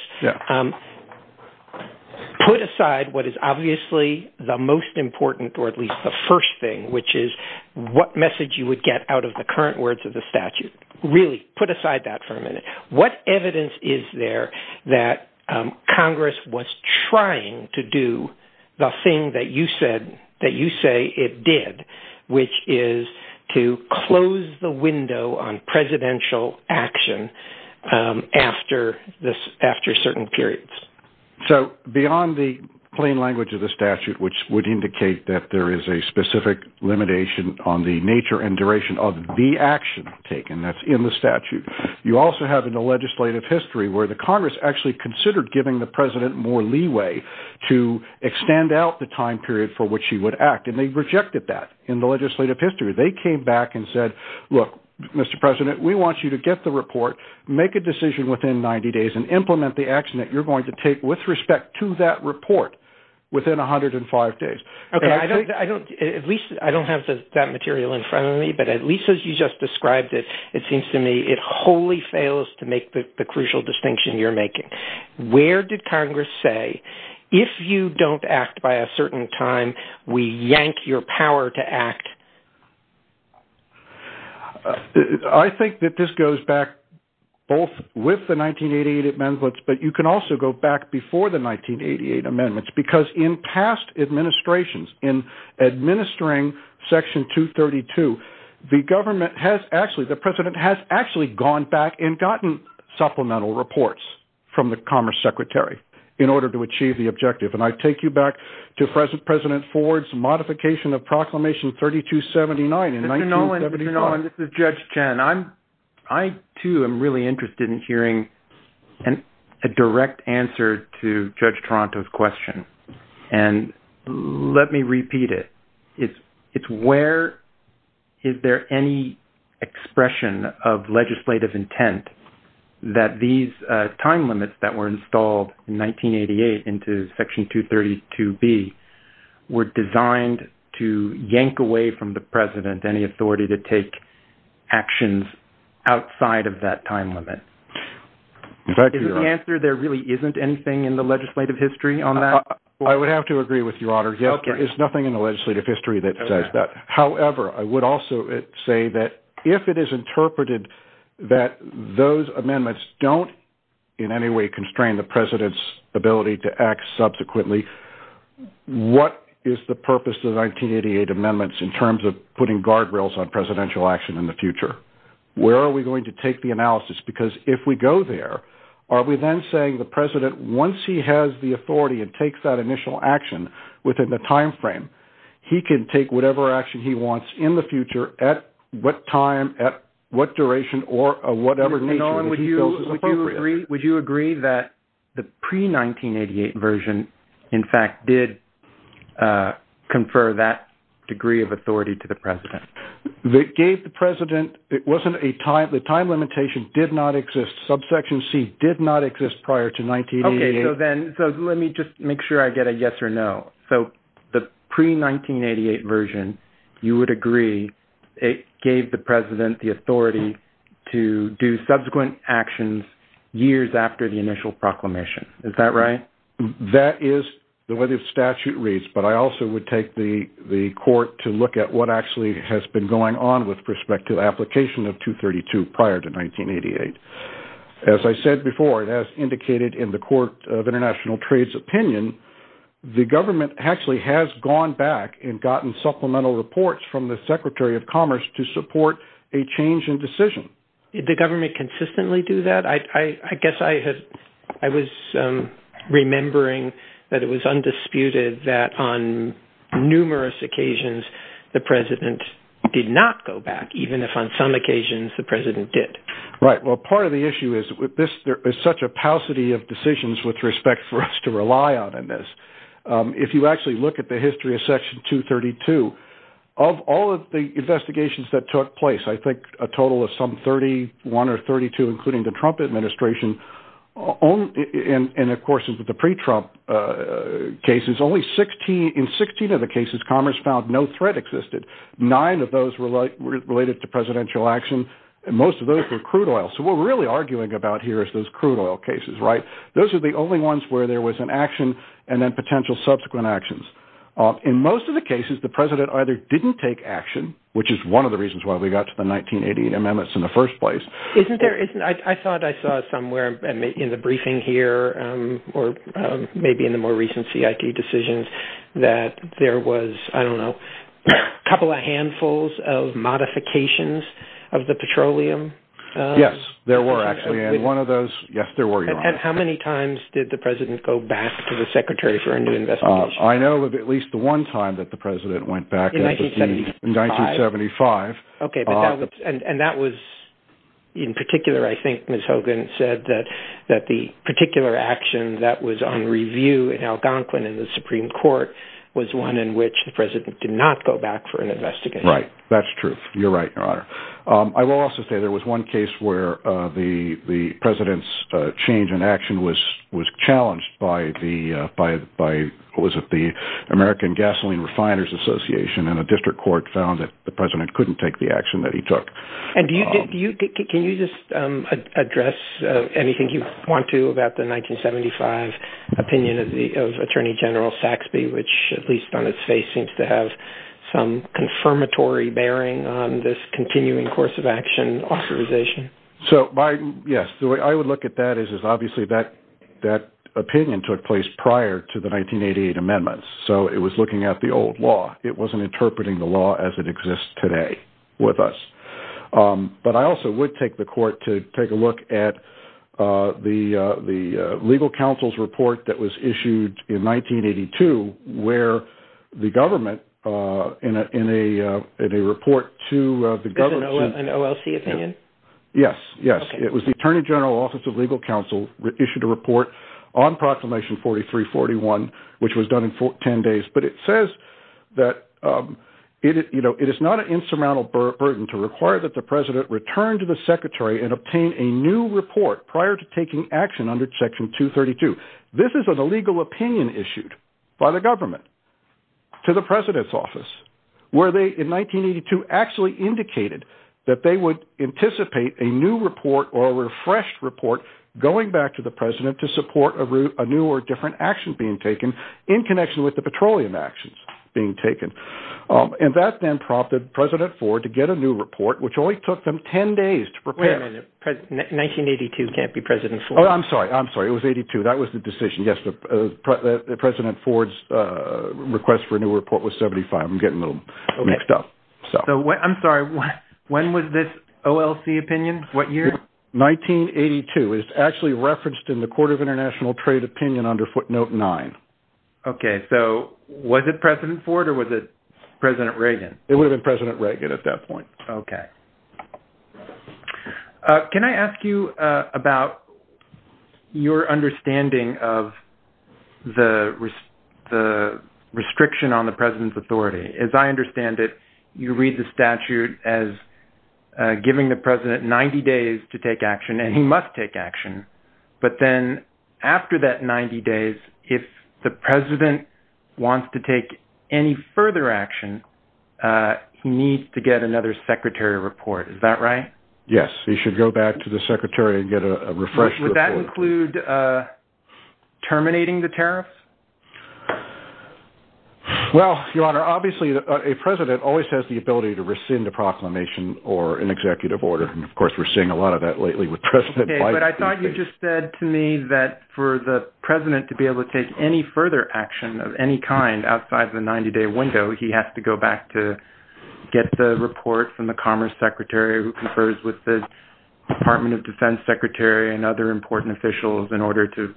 Put aside what is obviously the most important, or at least the first thing, which is what message you would get out of the current words of the statute. Really, put aside that for a minute. What evidence is there that Congress was trying to do the thing that you say it did, which is to close the window on presidential action after certain periods? Beyond the plain language of the statute, which would indicate that there is a specific limitation on the nature and duration of the action taken that's in the statute, you also have in the legislative history where the Congress actually considered giving the president more leeway to extend out the time period for which he would act, and they rejected that in the legislative history. They came back and said, look, Mr. President, we want you to get the report, make a decision within 90 days, and implement the action that you're going to take with respect to that report within 105 days. I don't have that material in front of me, but at least as you just described it, it seems to me it wholly fails to make the crucial distinction you're making. Where did Congress say, if you don't act by a certain time, we yank your power to act? I think that this goes back both with the 1988 amendments, but you can also go back before the 1988 amendments, because in past administrations, in administering Section 232, the government has, actually, the president has actually gone back and gotten supplemental reports from the Commerce Secretary in order to achieve the objective. And I take you back to President Ford's modification of Proclamation 3279 in 1979. Mr. Nolan, this is Judge Chen. I, too, am really interested in hearing a direct answer to Judge Toronto's question, and let me repeat it. It's where is there any expression of legislative intent that these time limits that were installed in 1988 into Section 232B were designed to yank away from the president any authority to take actions outside of that time limit? Is that the answer? There really isn't anything in the legislative history on that? I would have to agree with you, Otter. Yes, there is nothing in the legislative history that says that. However, I would also say that if it is interpreted that those amendments don't in any way constrain the administration, and consequently, what is the purpose of 1988 amendments in terms of putting guardrails on presidential action in the future? Where are we going to take the analysis? Because if we go there, are we then saying the president, once he has the authority and takes that initial action within the timeframe, he can take whatever action he wants in the future at what time, at what duration, or whatever nature that he feels is appropriate? Mr. Nolan, would you agree that the pre-1988 version, in fact, did confer that degree of authority to the president? It gave the president. It wasn't a time. The time limitation did not exist. Subsection C did not exist prior to 1988. Okay. So then let me just make sure I get a yes or no. So the pre-1988 version, you would agree it gave the president the authority to do subsequent actions years after the initial proclamation. Is that right? That is the way the statute reads, but I also would take the court to look at what actually has been going on with prospective application of 232 prior to 1988. As I said before, it has indicated in the Court of International Trade's opinion, the government actually has gone back and gotten supplemental reports from the Secretary of Commerce to support a change in decision. Did the government consistently do that? I guess I was remembering that it was undisputed that on numerous occasions, the president did not go back, even if on some occasions the president did. Right. Well, part of the issue is there is such a paucity of decisions with respect for us to rely on in this. If you actually look at the history of Section 232, of all of the investigations that took place, I think a total of some 31 or 32, including the Trump administration, and of course, into the pre-Trump cases, in 16 of the cases, Commerce found no threat existed. Nine of those were related to presidential action, and most of those were crude oil. So what we're really arguing about here is those crude oil cases, right? Those are the only ones where there was an action and then potential subsequent actions. In most of the cases, the president either didn't take action, which is one of the reasons why we got to the 1980 amendments in the first place. I thought I saw somewhere in the briefing here, or maybe in the more recent CIT decisions, that there was, I don't know, a couple of handfuls of modifications of the petroleum. Yes, there were actually, and one of those, yes, there were. And how many times did the president go back to the secretary for a new investigation? I know of at least the one time that the president went back. In 1975. In 1975. Okay, and that was, in particular, I think Ms. Hogan said that the particular action that was on review in Algonquin in the Supreme Court was one in which the president did not go back for an investigation. Right, that's true. You're right, Your Honor. I will also say there was one case where the president's change in action was challenged by the American Gasoline Refiners Association, and a district court found that the president couldn't take the action that he took. And can you just address anything you want to about the 1975 opinion of Attorney General Saxby, which, at least on its face, seems to have some confirmatory bearing on this case? Yes, the way I would look at that is obviously that opinion took place prior to the 1988 amendments. So it was looking at the old law. It wasn't interpreting the law as it exists today with us. But I also would take the court to take a look at the legal counsel's report that issued in 1982, where the government, in a report to the government... An OLC opinion? Yes, yes. It was the Attorney General's Office of Legal Counsel that issued a report on Proclamation 4341, which was done in 10 days. But it says that, you know, it is not an insurmountable burden to require that the president return to the secretary and obtain a new report prior to taking action under Section 232. This is an illegal opinion issued by the government to the president's office, where they, in 1982, actually indicated that they would anticipate a new report or a refreshed report going back to the president to support a new or different action being taken in connection with the petroleum actions being taken. And that then prompted President Ford to get a new report, which only took them 10 days to prepare. Wait a minute. 1982 can't be President Ford. I'm sorry. I'm sorry. It was 82. That was the decision. Yes, the President Ford's request for a new report was 75. I'm getting a little mixed up. So I'm sorry. When was this OLC opinion? What year? 1982. It's actually referenced in the Court of International Trade Opinion under footnote 9. Okay. So was it President Ford or was it President Reagan? It would have been President Reagan at that point. Okay. Can I ask you about your understanding of the restriction on the president's authority? As I understand it, you read the statute as giving the president 90 days to take action, and he must take action. But then after that 90 days, if the president wants to take any further action, he needs to get another secretary report. Is that right? Yes. He should go back to the secretary and get a refresher. Would that include terminating the tariff? Well, Your Honor, obviously, a president always has the ability to rescind a proclamation or an executive order. And of course, we're seeing a lot of that lately with President Biden. But I thought you just said to me that for the president to be able to take any further action of any kind outside the 90-day window, he has to go back to get the report from the commerce secretary who confers with the Department of Defense secretary and other important officials in order to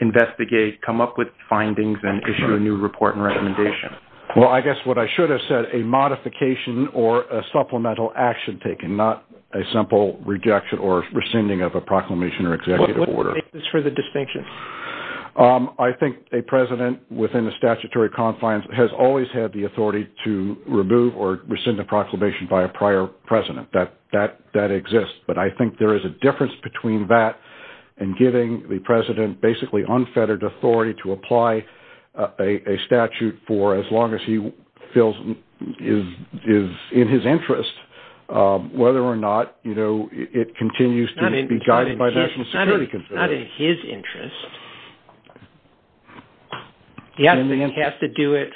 investigate, come up with findings, and issue a new report and recommendation. Well, I guess what I should have said, a modification or a supplemental action taken, not a simple rejection or rescinding of a proclamation or executive order. What makes this for the distinction? I think a president within the statutory confines has always had the authority to remove or rescind a proclamation by a prior president. That exists. But I think there is a difference between that and giving the president basically unfettered authority to apply a statute for as long as he feels is in his interest, whether or not, you know, it continues to be in his interest. Yes, he has to do it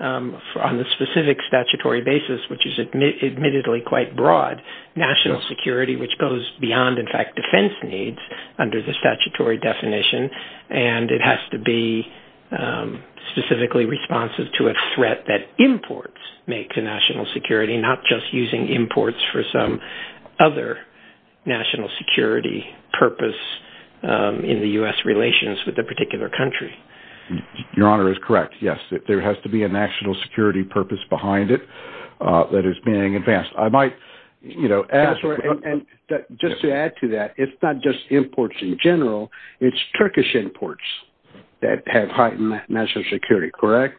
on the specific statutory basis, which is admittedly quite broad, national security, which goes beyond, in fact, defense needs under the statutory definition. And it has to be specifically responsive to a threat that imports make to national security, not just using imports for some other national security purpose in the U.S. relations with a particular country. Your Honor is correct. Yes, there has to be a national security purpose behind it that is being advanced. I might, you know, ask... That's right. And just to add to that, it's not just imports in general. It's Turkish imports that have heightened national security, correct?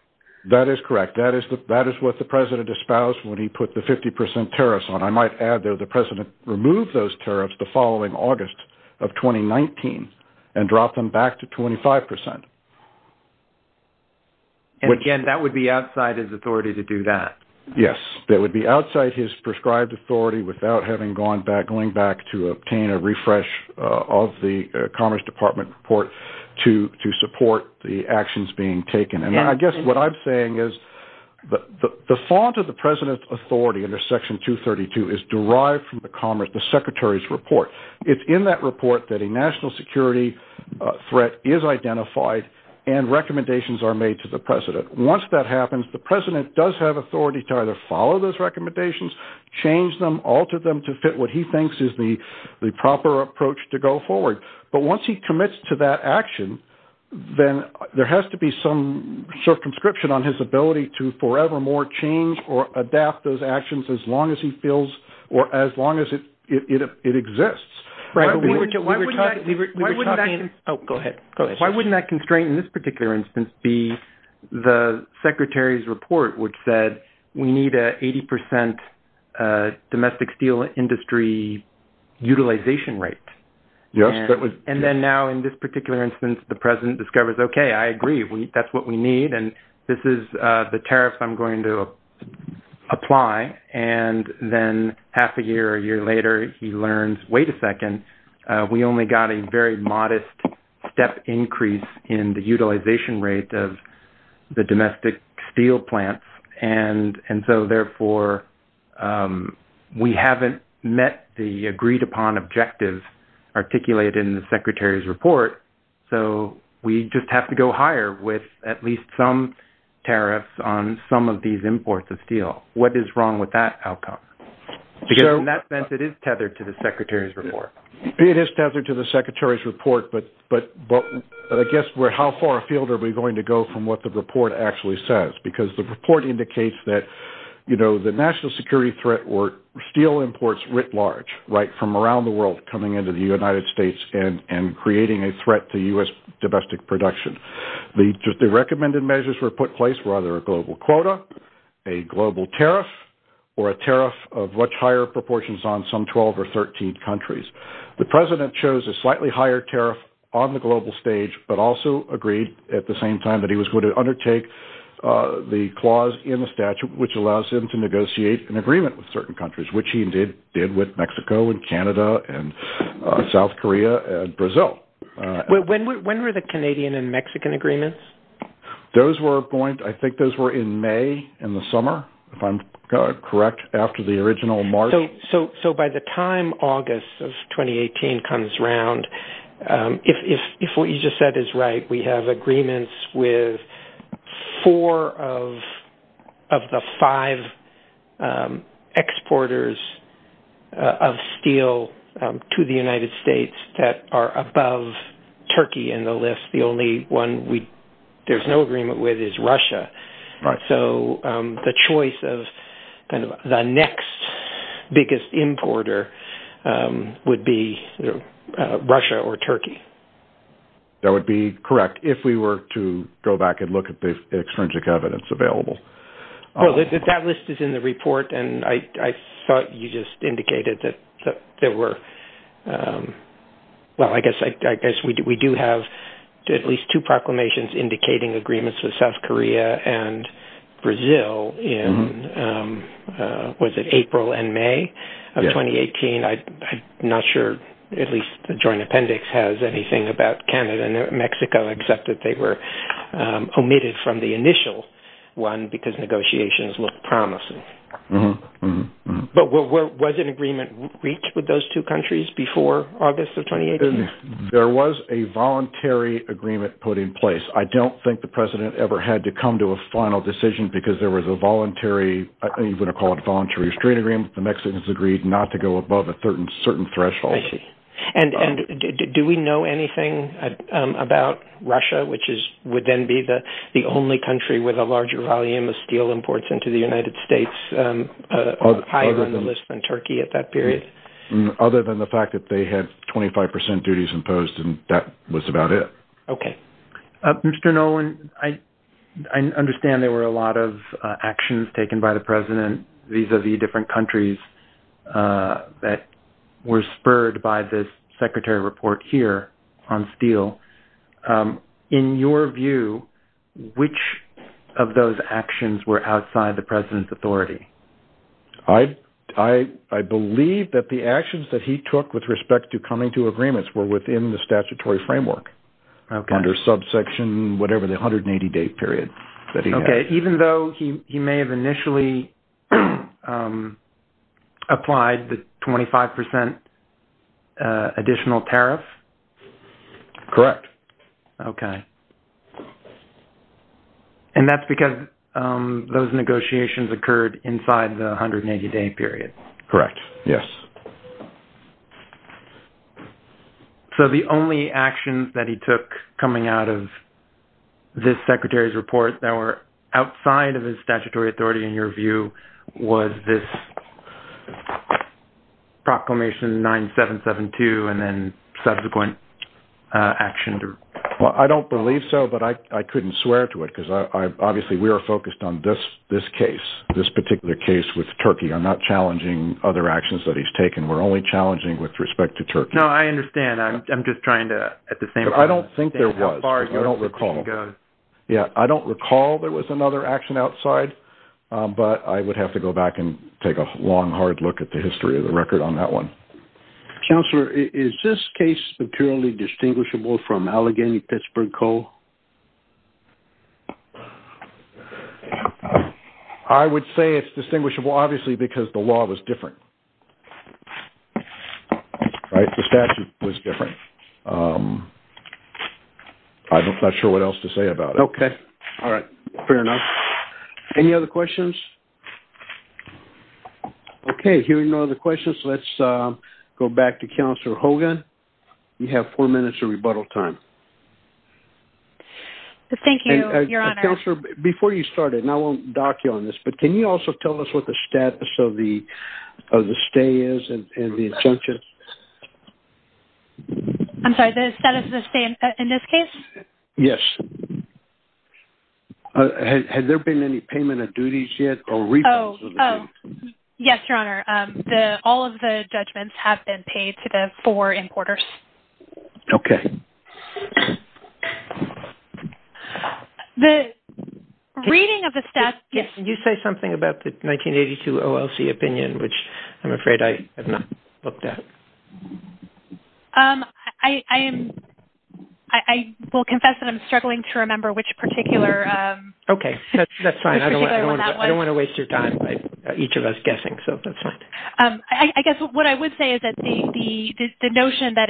That is correct. That is what the president espoused when he put the 50 percent tariffs on. I might add that the president removed those tariffs the following August of 2019 and dropped them back to 25 percent. And again, that would be outside his authority to do that. Yes, that would be outside his prescribed authority without having gone back, going back to obtain a refresh of the Commerce Department report to support the actions being taken. And I guess what I'm saying is the fault of the president's authority under Section 232 is derived from the Commerce, the secretary's report. It's in that report that a national security threat is identified and recommendations are made to the president. Once that happens, the president does have authority to either follow those recommendations, change them, alter them to fit what he thinks is the proper approach to go forward. But once he commits to that action, then there has to be some circumscription on his ability to forevermore change or adapt those actions as long as he feels or as long as it exists. Oh, go ahead. Why wouldn't that constraint in this particular instance be the secretary's report which said, we need an 80 percent domestic steel industry utilization rate? Yes, but we... And then now in this particular instance, the president discovers, okay, I agree. That's what we need. And this is the tariff I'm going to apply. And then half a year, a year later, he learns, wait a second, we only got a very modest step increase in the utilization rate of the domestic steel plants. And so therefore, we haven't met the agreed upon objectives articulated in the secretary's report. So we just have to go higher with at least some tariffs on some of these imports of steel. What is wrong with that outcome? Because in that sense, it is tethered to the secretary's report. It is tethered to the secretary's report, but I guess how far afield are we going to go from what the report actually says? Because the report indicates that the national security threat were steel imports writ large, right from around the world coming into the United States and creating a threat to US domestic production. The recommended measures were put in place were either a global quota, a global tariff, or a tariff of much higher proportions on some 12 or 13 countries. The president chose a slightly higher tariff on the global stage, but also agreed at the same time that he was going to undertake the clause in the statute, which allows him to negotiate an agreement with certain countries, which he did with Mexico and Canada and South Korea and Brazil. When were the Canadian and Mexican agreements? Those were going, I think those were in May in the summer, if I'm correct, after the original March. So by the time August of 2018 comes around, if what you just said is right, we have agreements with four of the five exporters of steel to the United States that are above Turkey in the list. The only one there's no agreement with is Russia. So the choice of the next biggest importer would be Russia or Turkey. That would be correct if we were to go back and look at the extrinsic evidence available. Well, that list is in the report. And I thought you just indicated that there were, well, I guess we do have at least two proclamations indicating agreements with South Korea and Brazil in April and May of 2018. I'm not sure, at least the joint appendix has anything about Canada and Mexico except that they were omitted from the initial one because negotiations look promising. But was an agreement reached with those two countries before August of 2018? There was a voluntary agreement put in place. I don't think the president ever had to come to a final decision because there was a voluntary, I think we're going to call it a voluntary street agreement. The Mexicans agreed not to go above a certain threshold. And do we know anything about Russia, which would then be the only country with a larger volume of steel imports into the United States, higher than Turkey at that period? Other than the fact that they had 25% duties imposed and that was about it. Okay. Mr. Nolan, I understand there were a lot of actions taken by the president vis-a-vis different countries that were spurred by this secretary report here on steel. In your view, which of those actions were outside the president's authority? I believe that the actions that he took with respect to coming to agreements were within the statutory framework under subsection, whatever, the 180-day period that he had. Okay. Even though he may have initially applied the 25% additional tariff? Correct. Okay. And that's because those negotiations occurred inside the 180-day period? Correct. Yes. So the only actions that he took coming out of this secretary's report that were outside of his statutory authority, in your view, was this proclamation 9772 and then subsequent action? I don't believe so, but I couldn't swear to it because obviously we are focused on this case, this particular case with Turkey. I'm not challenging other actions that he's taken. We're only challenging with respect to Turkey. No, I understand. I'm just trying to, at the same- I don't think there was. I don't recall. Yeah. I don't recall there was another action outside, but I would have to go back and take a long, hard look at the history of the record on that one. Counselor, is this case materially distinguishable from Allegheny-Pittsburgh Coal? I would say it's distinguishable, obviously, because the law was different. The statute was different. I'm not sure what else to say about it. Okay. All right. Fair enough. Any other questions? Okay. Hearing no other questions, let's go back to Counselor Hogan. You have four minutes of rebuttal time. Thank you, Your Honor. Counselor, before you start, and I won't dock you on this, but can you also tell us what the status of the stay is and the exemption? I'm sorry, the status of the stay in this case? Yes. Has there been any payment of duties yet? Yes, Your Honor. All of the judgments have been paid to the four importers. Okay. The reading of the status- Can you say something about the 1982 OLC opinion, which I'm afraid I have not looked at? I will confess that I'm struggling to remember which particular- Okay. That's fine. I don't want to waste your time, each of us, guessing, so that's fine. I guess what I would say is that the notion that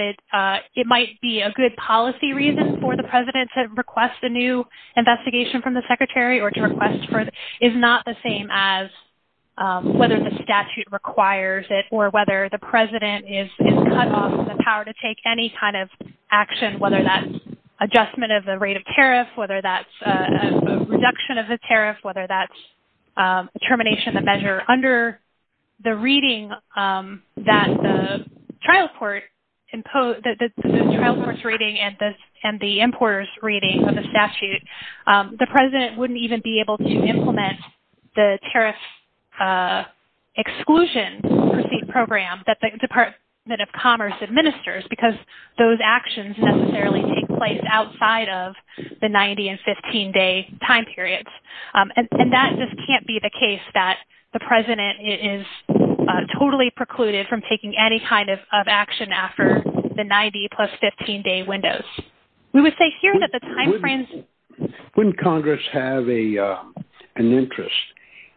it might be a good policy reason for the President to request a new investigation from the Secretary or to request for it is not the same as whether the statute requires it or whether the President is cut off from the power to take any kind of action, whether that's adjustment of the rate of tariff, whether that's a reduction of the tariff, whether that's termination of the measure. Under the reading that the trial court's reading and the importer's reading of the statute, the President wouldn't even be able to implement the tariff exclusion program that the Department of Commerce administers because those actions necessarily take place outside of the 90 and 15-day time periods. And that just can't be the case that the President is totally precluded from taking any kind of action after the 90 plus 15-day window. We would say here that the timeframe... Wouldn't Congress have an interest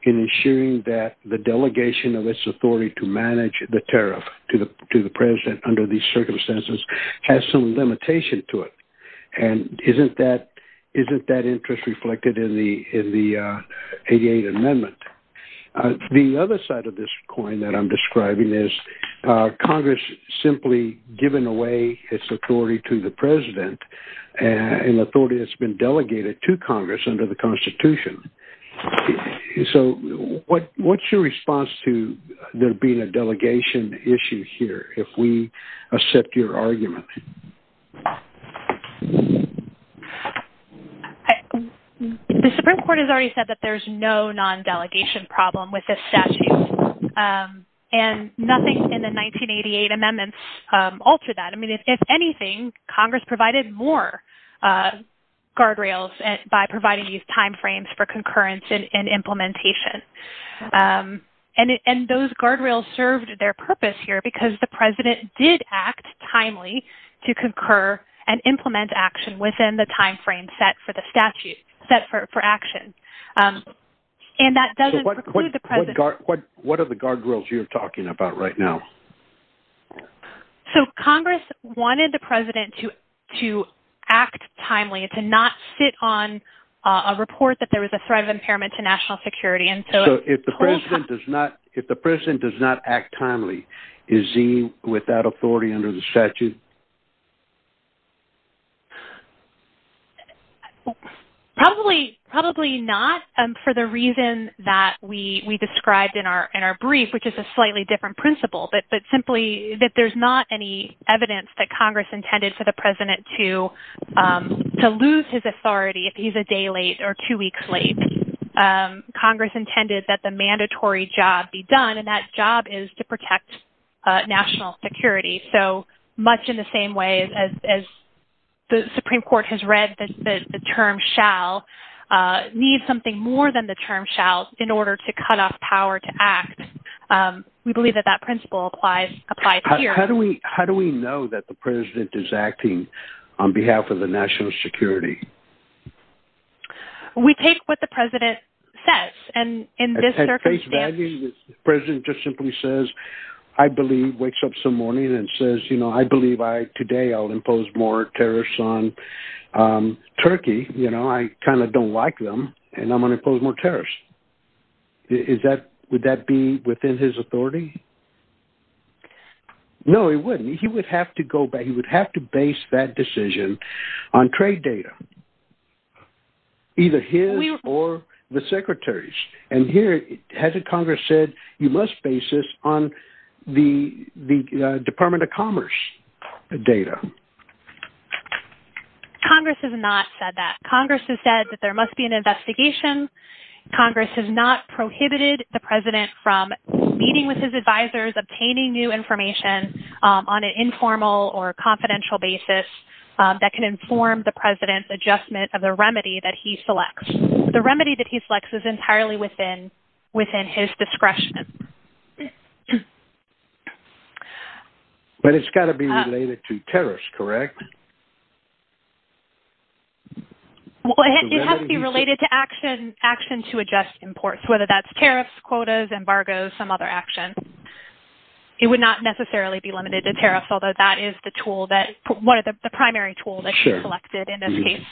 in ensuring that the delegation of its authority to manage the tariff to the President under these circumstances has some limitation to it? And isn't that interest reflected in the 88 Amendment? The other side of this coin that I'm describing is Congress simply giving away its authority to the President and authority that's been delegated to Congress under the Constitution. So what's your response to there being a delegation issue here if we accept your argument? The Supreme Court has already said that there's no non-delegation problem with this statute. And nothing in the 1988 Amendments altered that. I mean, if anything, Congress provided more guardrails by providing these timeframes for concurrence and implementation. And those guardrails served their purpose here because the President did act timely to concur and implement action within the timeframe set for the statute, set for action. So what are the guardrails you're talking about right now? So Congress wanted the President to act timely, to not sit on a report that there was a threat of impairment to national security. So if the President does not act timely, does that mean that Congress is not going to protect national security? Probably not for the reason that we described in our brief, which is a slightly different principle, but simply that there's not any evidence that Congress intended for the President to lose his authority if he's a day late or two weeks late. Congress intended that the mandatory job be done, and that job is to protect national security. So much in the same way as the Supreme Court has read that the term shall need something more than the term shall in order to cut off power to act. We believe that that principle applies here. How do we know that the President is acting on behalf of the national security? We take what the President says, and in this circumstance... At face value, the President just simply says, I believe, wakes up some morning and says, you know, I believe today I'll impose more tariffs on Turkey. You know, I kind of don't like them, and I'm going to impose more tariffs. Would that be within his authority? No, it wouldn't. He would have to go back. He would have to base that decision on trade data, either his or the Secretary's. And here, hasn't Congress said, you must base this on the Department of Commerce data? Congress has not said that. Congress has said that there must be an investigation. Congress has not prohibited the President from meeting with his advisors, obtaining new information that can inform the President's adjustment of the remedy that he selects. The remedy that he selects is entirely within his discretion. But it's got to be related to tariffs, correct? Well, it has to be related to actions to adjust imports, whether that's tariffs, quotas, embargoes, some other action. It would not necessarily be limited to tariffs, although that is the tool that, one of the primary tools that you selected in this case.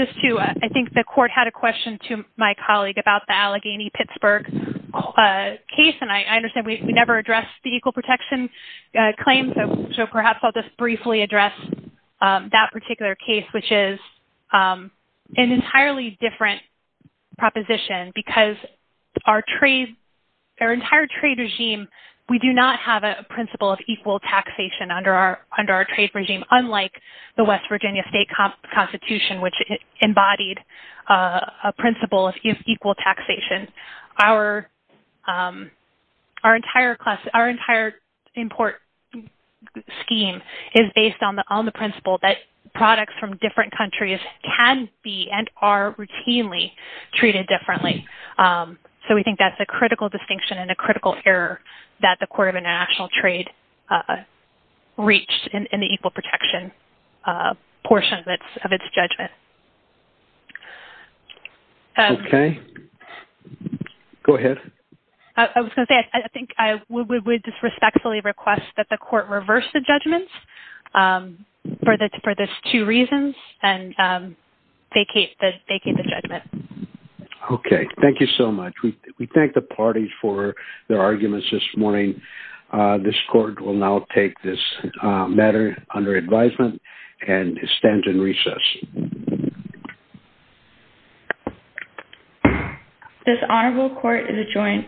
Just to, I think the Court had a question to my colleague about the Allegheny-Pittsburgh case, and I understand we never addressed the Equal Protection claim, so perhaps I'll just briefly address that particular case, which is an entirely different proposition, because our trade, our entire trade regime, we do not have a principle of equal taxation under our trade regime, unlike the West Virginia state constitution, which embodied a principle of equal taxation. Our entire import scheme is based on the principle that products from different countries can be and are routinely treated differently. So we think that's a critical distinction and a critical error that the Court of International Trade reached in the Equal Protection portion of its judgment. Okay. Go ahead. I was going to say, I think I would just respectfully request that the Court reverse the judgments for those two reasons and vacate the judgment. Okay. Thank you so much. We thank the parties for their arguments this morning. This Court will now take this matter under advisement and stand in recess. This Honorable Court is adjoined today.